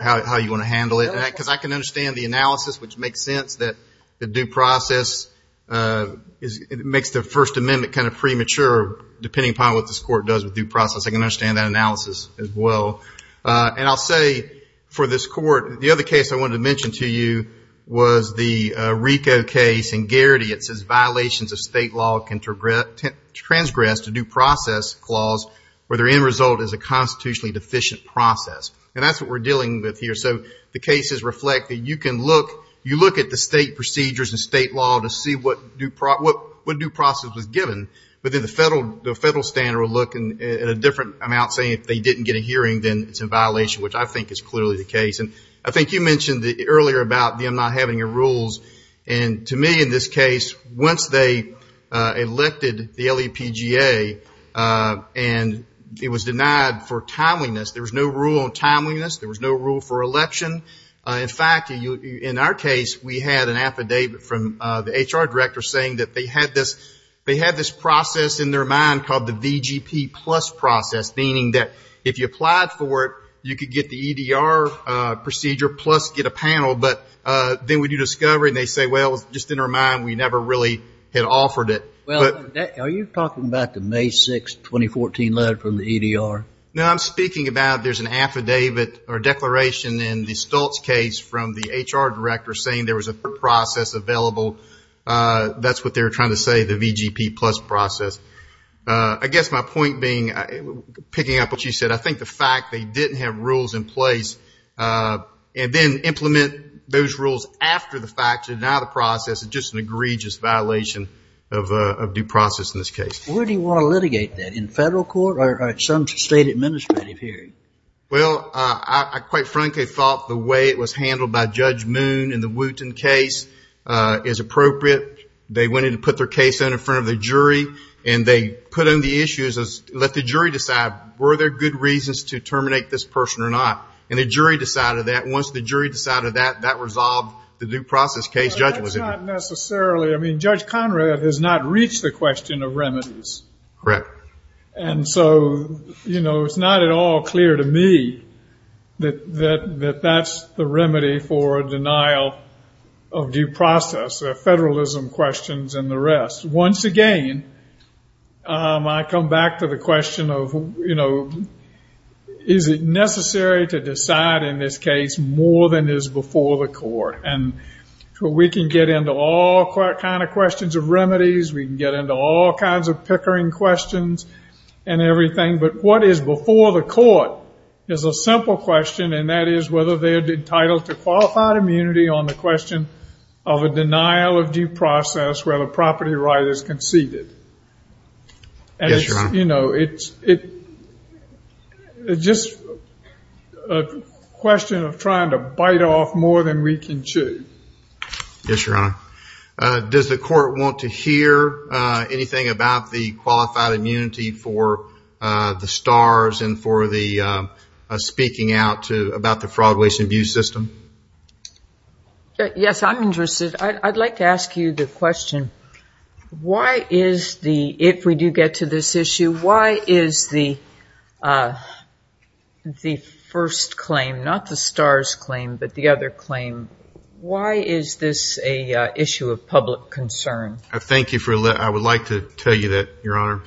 how you want to handle it. I can understand the analysis, which makes sense that the due process makes the First Amendment kind of premature, depending upon what this court does with due process. I can understand that analysis as well. And I'll say for this court, the other case I wanted to mention to you was the RICO case in Garrity. It says violations of state law can transgress a due process clause where the end result is a constitutionally deficient process. And that's what we're dealing with here. So the case is reflected. You can look at the state procedures and state law to see what due process was given. But then the federal standard would look at a different amount, saying if they didn't get a hearing, then it's a violation, which I think is clearly the case. And I think you mentioned earlier about them not having the rules. And to me in this case, once they elected the LEPGA and it was denied for timeliness, there was no rule on timeliness, there was no rule for election. In fact, in our case, we had an affidavit from the HR director saying that they had this process in their mind called the VGP plus process, meaning that if you applied for it, you could get the EDR procedure plus get a panel. But then we do discovery and they say, well, just in our mind, we never really had offered it. Well, are you talking about the May 6, 2014 LUD from the EDR? No, I'm speaking about there's an affidavit or declaration in the Stoltz case from the HR director saying there was a process available. That's what they're trying to say, the VGP plus process. I guess my point being, picking up what you said, I think the fact they didn't have rules in place and then implement those rules after the fact is not a process, it's just an egregious violation of due process in this case. Where do you want to litigate that, in federal court or at some state administrative hearing? Well, I quite frankly thought the way it was handled by Judge Moon in the Wooten case is appropriate. They wanted to put their case out in front of the jury and they put in the issues, let the jury decide, were there good reasons to terminate this person or not? And the jury decided that. Once the jury decided that, that resolved the due process case. That's not necessarily, I mean, Judge Conrad has not reached the question of remedies. Correct. And so, you know, it's not at all clear to me that that's the remedy for denial of due process. There are federalism questions and the rest. Once again, I come back to the question of, you know, is it necessary to decide in this case more than is before the court? And we can get into all kinds of questions of remedies. We can get into all kinds of pickering questions and everything. But what is before the court is a simple question, and that is whether they're entitled to qualified immunity on the question of a denial of due process where the property right is conceded. Yes, Your Honor. You know, it's just a question of trying to bite off more than we can chew. Yes, Your Honor. Does the court want to hear anything about the qualified immunity for the STARS and for the speaking out about the fraud, waste, and abuse system? Yes, I'm interested. I'd like to ask you the question, why is the, if we do get to this issue, why is the first claim, not the STARS claim, but the other claim, why is this an issue of public concern? Thank you. I would like to tell you that, Your Honor.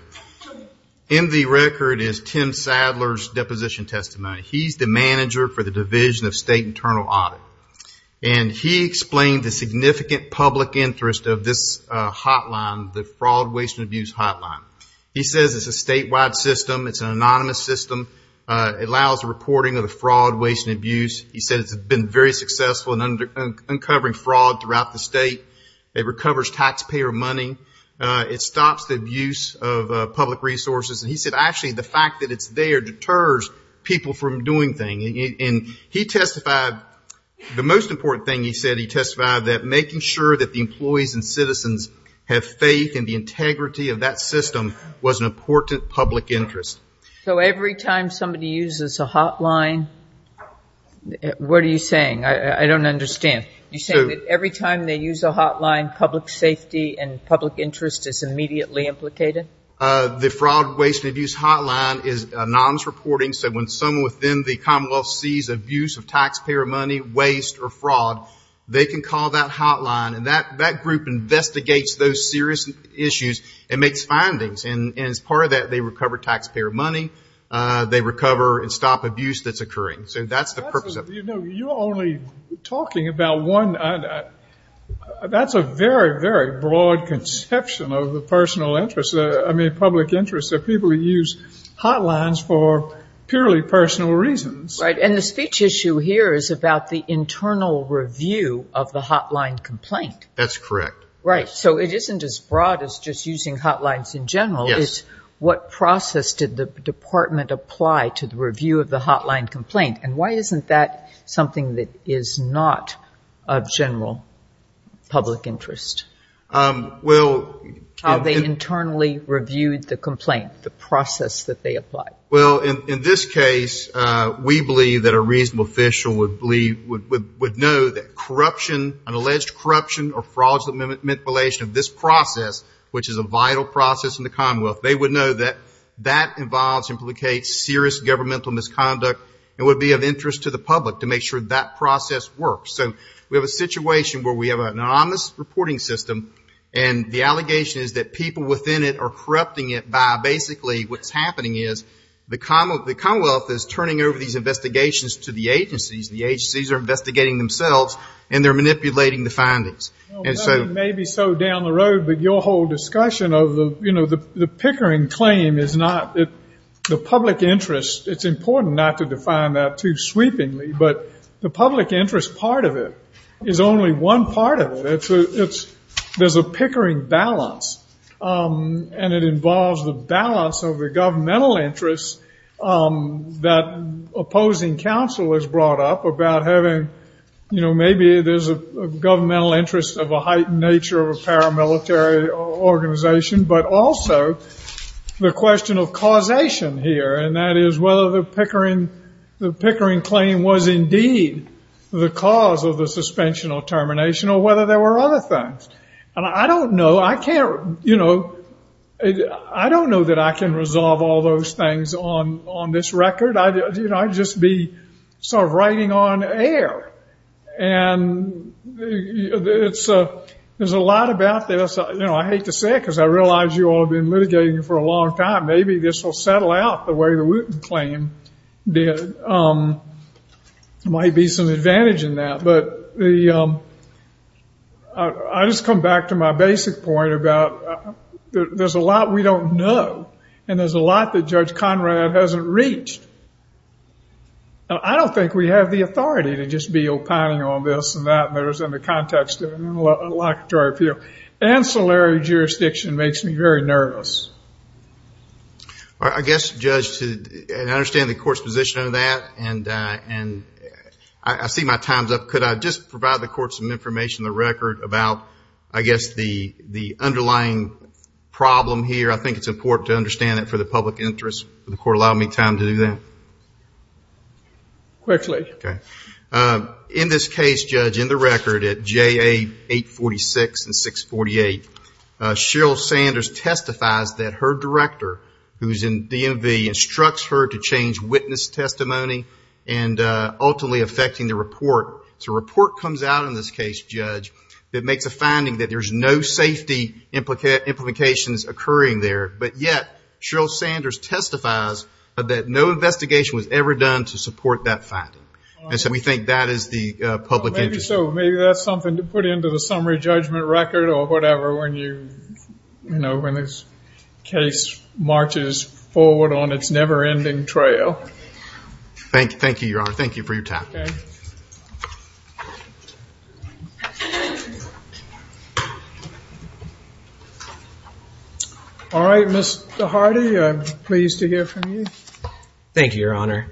In the record is Tim Sadler's deposition testimony. He's the manager for the Division of State Internal Audit. And he explained the significant public interest of this hotline, the fraud, waste, and abuse hotline. He says it's a statewide system. It's an anonymous system. It allows the reporting of the fraud, waste, and abuse. He says it's been very successful in uncovering fraud throughout the state. It recovers taxpayer money. It stops the abuse of public resources. And he said, actually, the fact that it's there deters people from doing things. And he testified, the most important thing he said, he testified that making sure that the employees and citizens have faith in the integrity of that system was an important public interest. So every time somebody uses a hotline, what are you saying? I don't understand. You're saying that every time they use a hotline, public safety and public interest is immediately implicated? The fraud, waste, and abuse hotline is anonymous reporting. So when someone within the Commonwealth sees abuse of taxpayer money, waste, or fraud, they can call that hotline. And that group investigates those serious issues and makes findings. And as part of that, they recover taxpayer money. They recover and stop abuse that's occurring. So that's the purpose of it. You know, you're only talking about one. That's a very, very broad conception of the personal interest, I mean, public interest of people who use hotlines for purely personal reasons. And the speech issue here is about the internal review of the hotline complaint. That's correct. Right. So it isn't as broad as just using hotlines in general. It's what process did the department apply to the review of the hotline complaint? And why isn't that something that is not of general public interest? Well... How they internally reviewed the complaint, the process that they applied. Well, in this case, we believe that a reasonable official would know that corruption, an alleged corruption or fraudulent manipulation of this process, which is a vital process in the Commonwealth, they would know that that involves and implicates serious governmental misconduct. It would be of interest to the public to make sure that process works. So we have a situation where we have an anonymous reporting system, and the allegation is that people within it are corrupting it by basically what's happening is the Commonwealth is turning over these investigations to the agencies. The agencies are investigating themselves, and they're manipulating the findings. Maybe so down the road, but your whole discussion of the pickering claim is not the public interest. It's important not to define that too sweepingly, but the public interest part of it is only one part of it. There's a pickering balance, and it involves the balance of the governmental interests that opposing counsel has brought up about having, you know, maybe there's a governmental interest of a heightened nature of a paramilitary organization, but also the question of causation here, and that is whether the pickering claim was indeed the cause of a suspension or termination or whether there were other things. And I don't know, I can't, you know, I don't know that I can resolve all those things on this record. I'd just be sort of writing on air, and there's a lot about this. You know, I hate to say it because I realize you all have been litigating it for a long time. Maybe this will settle out the way the Wooten claim did. There might be some advantage in that, but I just come back to my basic point about there's a lot we don't know, and there's a lot that Judge Conrad hasn't reached. I don't think we have the authority to just be opining on this and that, and there's in the context of the locatory appeal, ancillary jurisdiction makes me very nervous. I guess, Judge, and I understand the court's position on that, and I see my time's up. Could I just provide the court some information on the record about, I guess, the underlying problem here? I think it's important to understand it for the public interest. Would the court allow me time to do that? Correctly. Okay. In this case, Judge, in the record at JA 846 and 648, Cheryl Sanders testifies that her director, who's in DMV, instructs her to change witness testimony and ultimately affecting the report. So a report comes out in this case, Judge, that makes a finding that there's no safety implications occurring there, but yet Cheryl Sanders testifies that no investigation was ever done to support that finding. And so we think that is the public interest. Maybe so. Maybe that's something to put into the summary judgment record or whatever when this case marches forward on its never-ending trail. Thank you, Your Honor. Thank you for your time. Okay. All right, Mr. Hardy, I'm pleased to hear from you. Thank you, Your Honor.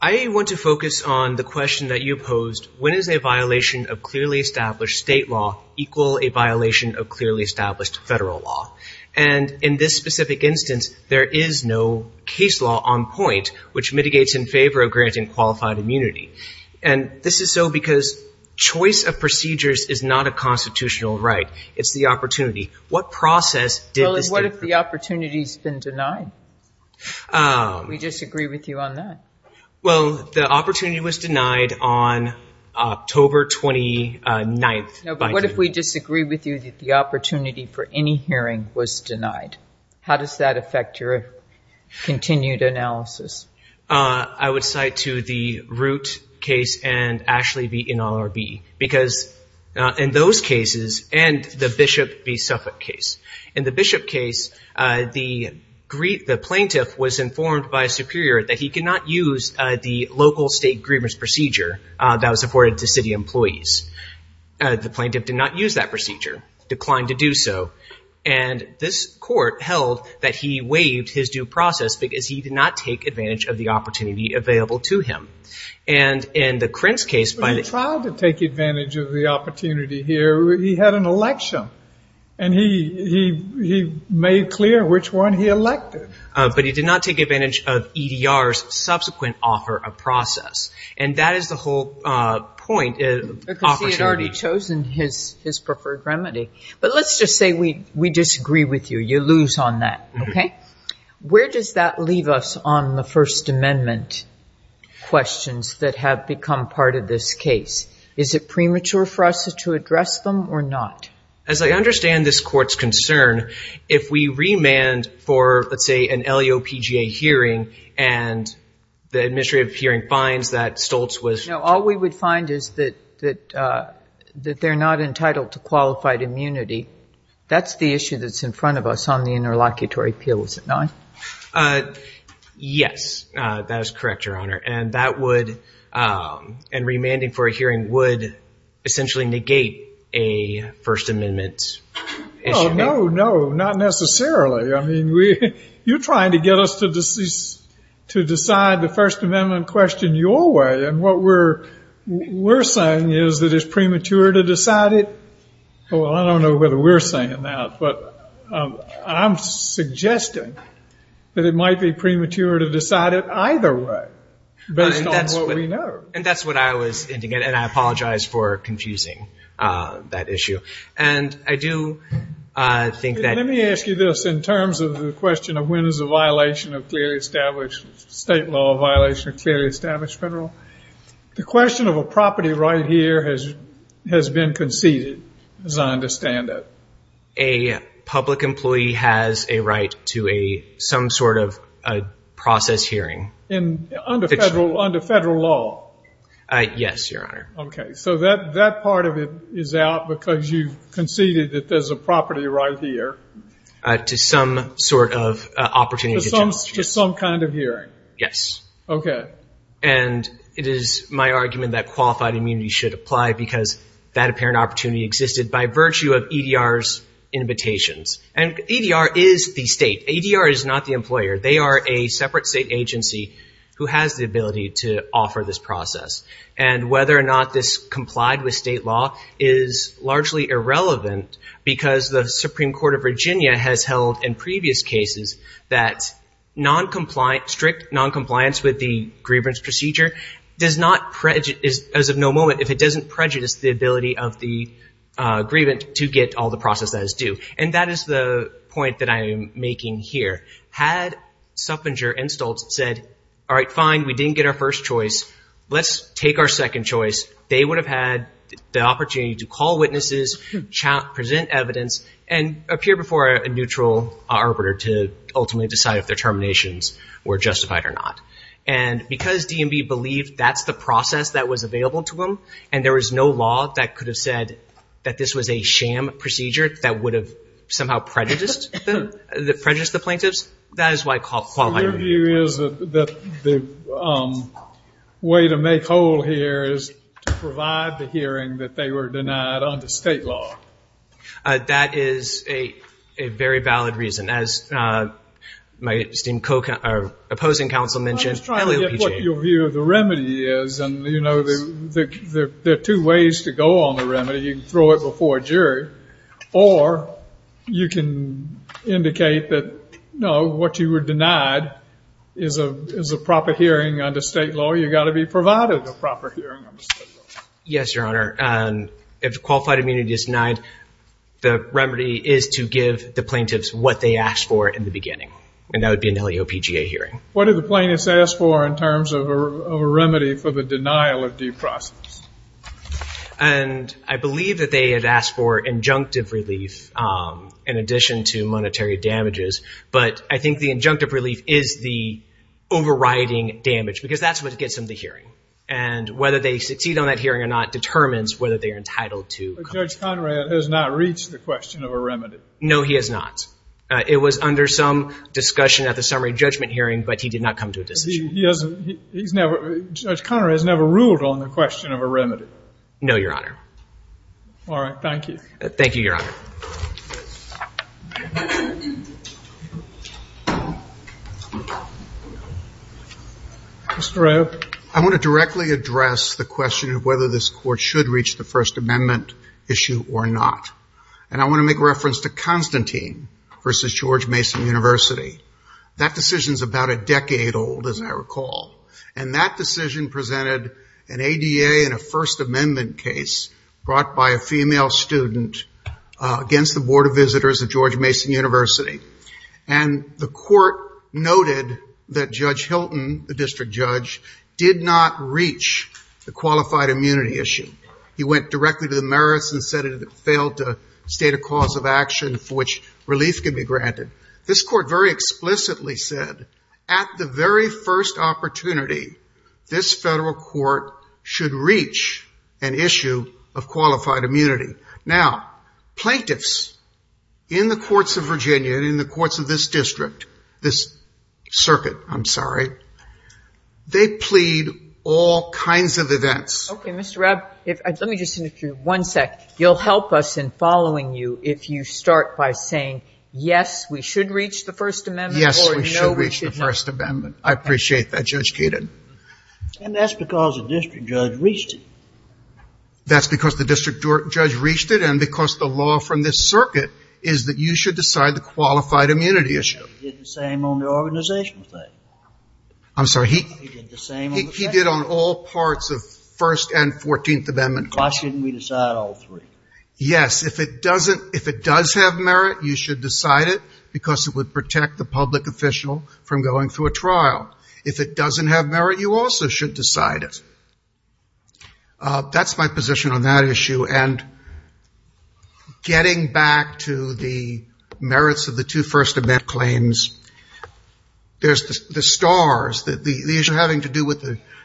I want to focus on the question that you posed. When is a violation of clearly established state law equal a violation of clearly established federal law? And in this specific instance, there is no case law on point which mitigates in favor of granting qualified immunity. And this is so because choice of procedures is not a constitutional right. It's the opportunity. What process did this... What if the opportunity's been denied? We disagree with you on that. Well, the opportunity was denied on October 29th. No, but what if we disagree with you that the opportunity for any hearing was denied? How does that affect your continued analysis? I would cite to the Root case and actually the NLRB because in those cases and the Bishop v. Suffolk case, in the Bishop case, the plaintiff was informed by a superior that he could not use the local state grievance procedure that was afforded to city employees. The plaintiff did not use that procedure, declined to do so. And this court held that he waived his due process because he did not take advantage of the opportunity available to him. And in the Crintz case... He filed to take advantage of the opportunity here. He had an election, and he made clear which one he elected. But he did not take advantage of EDR's subsequent offer of process. And that is the whole point. Because he had already chosen his preferred remedy. But let's just say we disagree with you. You lose on that, okay? Where does that leave us on the First Amendment questions that have become part of this case? Is it premature for us to address them or not? As I understand this court's concern, if we remand for, let's say, an LEOPGA hearing, and the administrative hearing finds that Stoltz was... No, all we would find is that they're not entitled to qualified immunity. That's the issue that's in front of us on the interlocutory appeal, is it not? Yes, that is correct, Your Honor. And that would, and remanding for a hearing would essentially negate a First Amendment... Oh, no, no, not necessarily. I mean, you're trying to get us to decide the First Amendment question your way, and what we're saying is that it's premature to decide it. Well, I don't know whether we're saying that, but I'm suggesting that it might be premature to decide it either way based on what we know. And that's what I was indicating, and I apologize for confusing that issue. And I do think that... Let me ask you this in terms of the question of when is a state law violation of clearly established federal. The question of a property right here has been conceded, as I understand it. A public employee has a right to some sort of process hearing. Under federal law? Yes, Your Honor. Okay, so that part of it is out because you conceded that there's a property right here. To some sort of opportunity. To some kind of hearing. Yes. Okay. And it is my argument that qualified immunity should apply because that apparent opportunity existed by virtue of EDR's invitation. And EDR is the state. EDR is not the employer. They are a separate state agency who has the ability to offer this process. And whether or not this complied with state law is largely irrelevant because the Supreme Court of Virginia has held in previous cases that strict noncompliance with the grievance procedure does not prejudice, as of no moment, if it doesn't prejudice the ability of the grievant to get all the process that is due. And that is the point that I am making here. Had Suffenger and Stoltz said, all right, fine, we didn't get our first choice, let's take our second choice, they would have had the opportunity to call witnesses, present evidence, and appear before a neutral arbiter to ultimately decide if their terminations were justified or not. And because DMV believed that's the process that was available to them and there was no law that could have said that this was a sham procedure that would have somehow prejudiced the plaintiffs, that is why qualified immunity. Your view is that the way to make whole here is to provide the hearing that they were denied under state law. That is a very valid reason. As my opposing counsel mentioned, the remedy is, you know, there are two ways to go on the remedy. You can throw it before a jury, or you can indicate that, no, what you were denied is a proper hearing under state law. You've got to be provided a proper hearing under state law. Yes, Your Honor. If qualified immunity is denied, the remedy is to give the plaintiffs what they asked for in the beginning. And that would be an LEOPGA hearing. What did the plaintiffs ask for in terms of a remedy for the denial of due process? And I believe that they had asked for injunctive relief in addition to monetary damages. But I think the injunctive relief is the overriding damage, because that's what gets them the hearing. And whether they succeed on that hearing or not determines whether they are entitled to compensation. But Judge Conrad has not reached the question of a remedy. No, he has not. It was under some discussion at the summary judgment hearing, but he did not come to a decision. Judge Conrad has never ruled on the question of a remedy. No, Your Honor. All right. Thank you. Thank you, Your Honor. Mr. Rowe. I want to directly address the question of whether this Court should reach the First Amendment issue or not. And I want to make reference to Constantine v. George Mason University. That decision is about a decade old, as I recall. And that decision presented an ADA and a First Amendment case brought by a female student against the Board of Visitors at George Mason University. And the Court noted that Judge Hilton, the district judge, did not reach the qualified immunity issue. He went directly to the merits and said it failed to state a cause of action for which relief can be granted. This Court very explicitly said, at the very first opportunity, this federal court should reach an issue of qualified immunity. Now, plaintiffs in the courts of Virginia and in the courts of this district, this circuit, I'm sorry, they plead all kinds of events. Okay, Mr. Rowe, let me just interrupt you for one sec. You'll help us in following you if you start by saying, yes, we should reach the First Amendment. Yes, we should reach the First Amendment. I appreciate that, Judge Kagan. And that's because the district judge reached it. That's because the district judge reached it and because the law from this circuit is that you should decide the qualified immunity issue. He did the same on the organization side. I'm sorry. He did on all parts of First and Fourteenth Amendment. Why shouldn't we decide all three? Yes, if it does have merit, you should decide it because it would protect the public official from going through a trial. If it doesn't have merit, you also should decide it. That's my position on that issue. And getting back to the merits of the two First Amendment claims, there's the STARS, the issue having to do with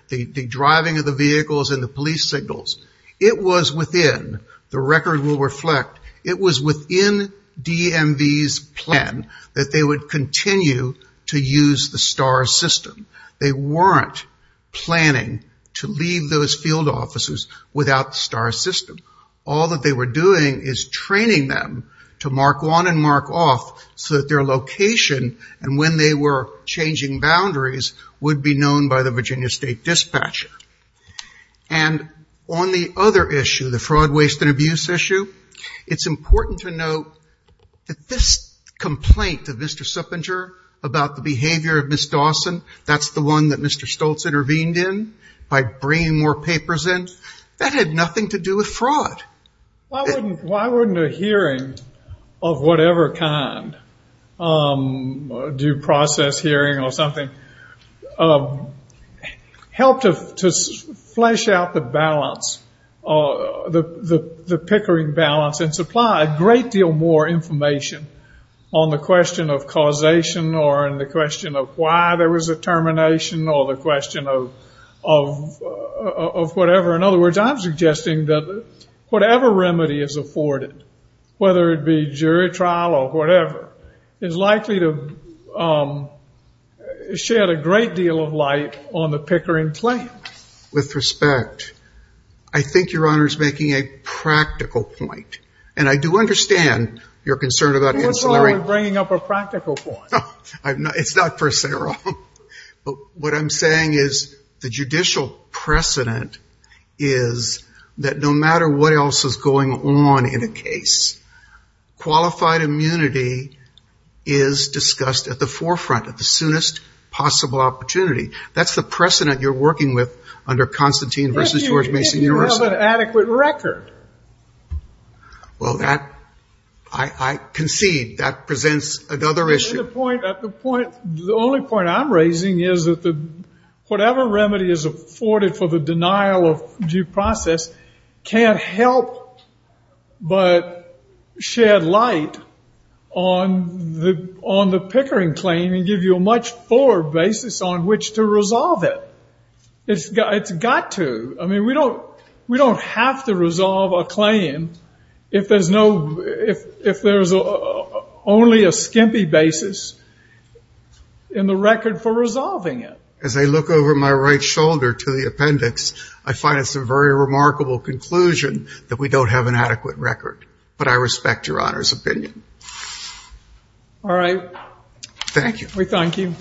the driving of the vehicles and the police signals. It was within, the record will reflect, it was within DMV's plan that they would continue to use the STARS system. They weren't planning to leave those field offices without the STARS system. All that they were doing is training them to mark on and mark off so that their location and when they were changing boundaries would be known by the Virginia State Dispatcher. And on the other issue, the fraud, waste, and abuse issue, it's important to note that this complaint of Mr. Suppenger about the behavior of Ms. Dawson, that's the one that Mr. Stoltz intervened in by bringing more papers in, that had nothing to do with fraud. Why wouldn't a hearing of whatever kind, due process hearing or something, help to flesh out the balance, the pickering balance, and supply a great deal more information on the question of causation or on the question of why there was a termination or the question of whatever? In other words, I'm suggesting that whatever remedy is afforded, whether it be jury trial or whatever, is likely to shed a great deal of light on the pickering plan. With respect, I think your Honor is making a practical point. And I do understand your concern about the cancel hearing. You're bringing up a practical point. It's not personal. What I'm saying is the judicial precedent is that no matter what else is going on in a case, qualified immunity is discussed at the forefront, at the soonest possible opportunity. That's the precedent you're working with under Constantine v. George Mason University. Well, that, I concede, that presents another issue. The only point I'm raising is that whatever remedy is afforded for the denial of due process can't help but shed light on the pickering claim and give you a much fuller basis on which to resolve it. It's got to. I mean, we don't have to resolve a claim if there's only a skimpy basis in the record for resolving it. As I look over my right shoulder to the appendix, I find it's a very remarkable conclusion that we don't have an adequate record. But I respect your Honor's opinion. All right. Thank you. We thank you.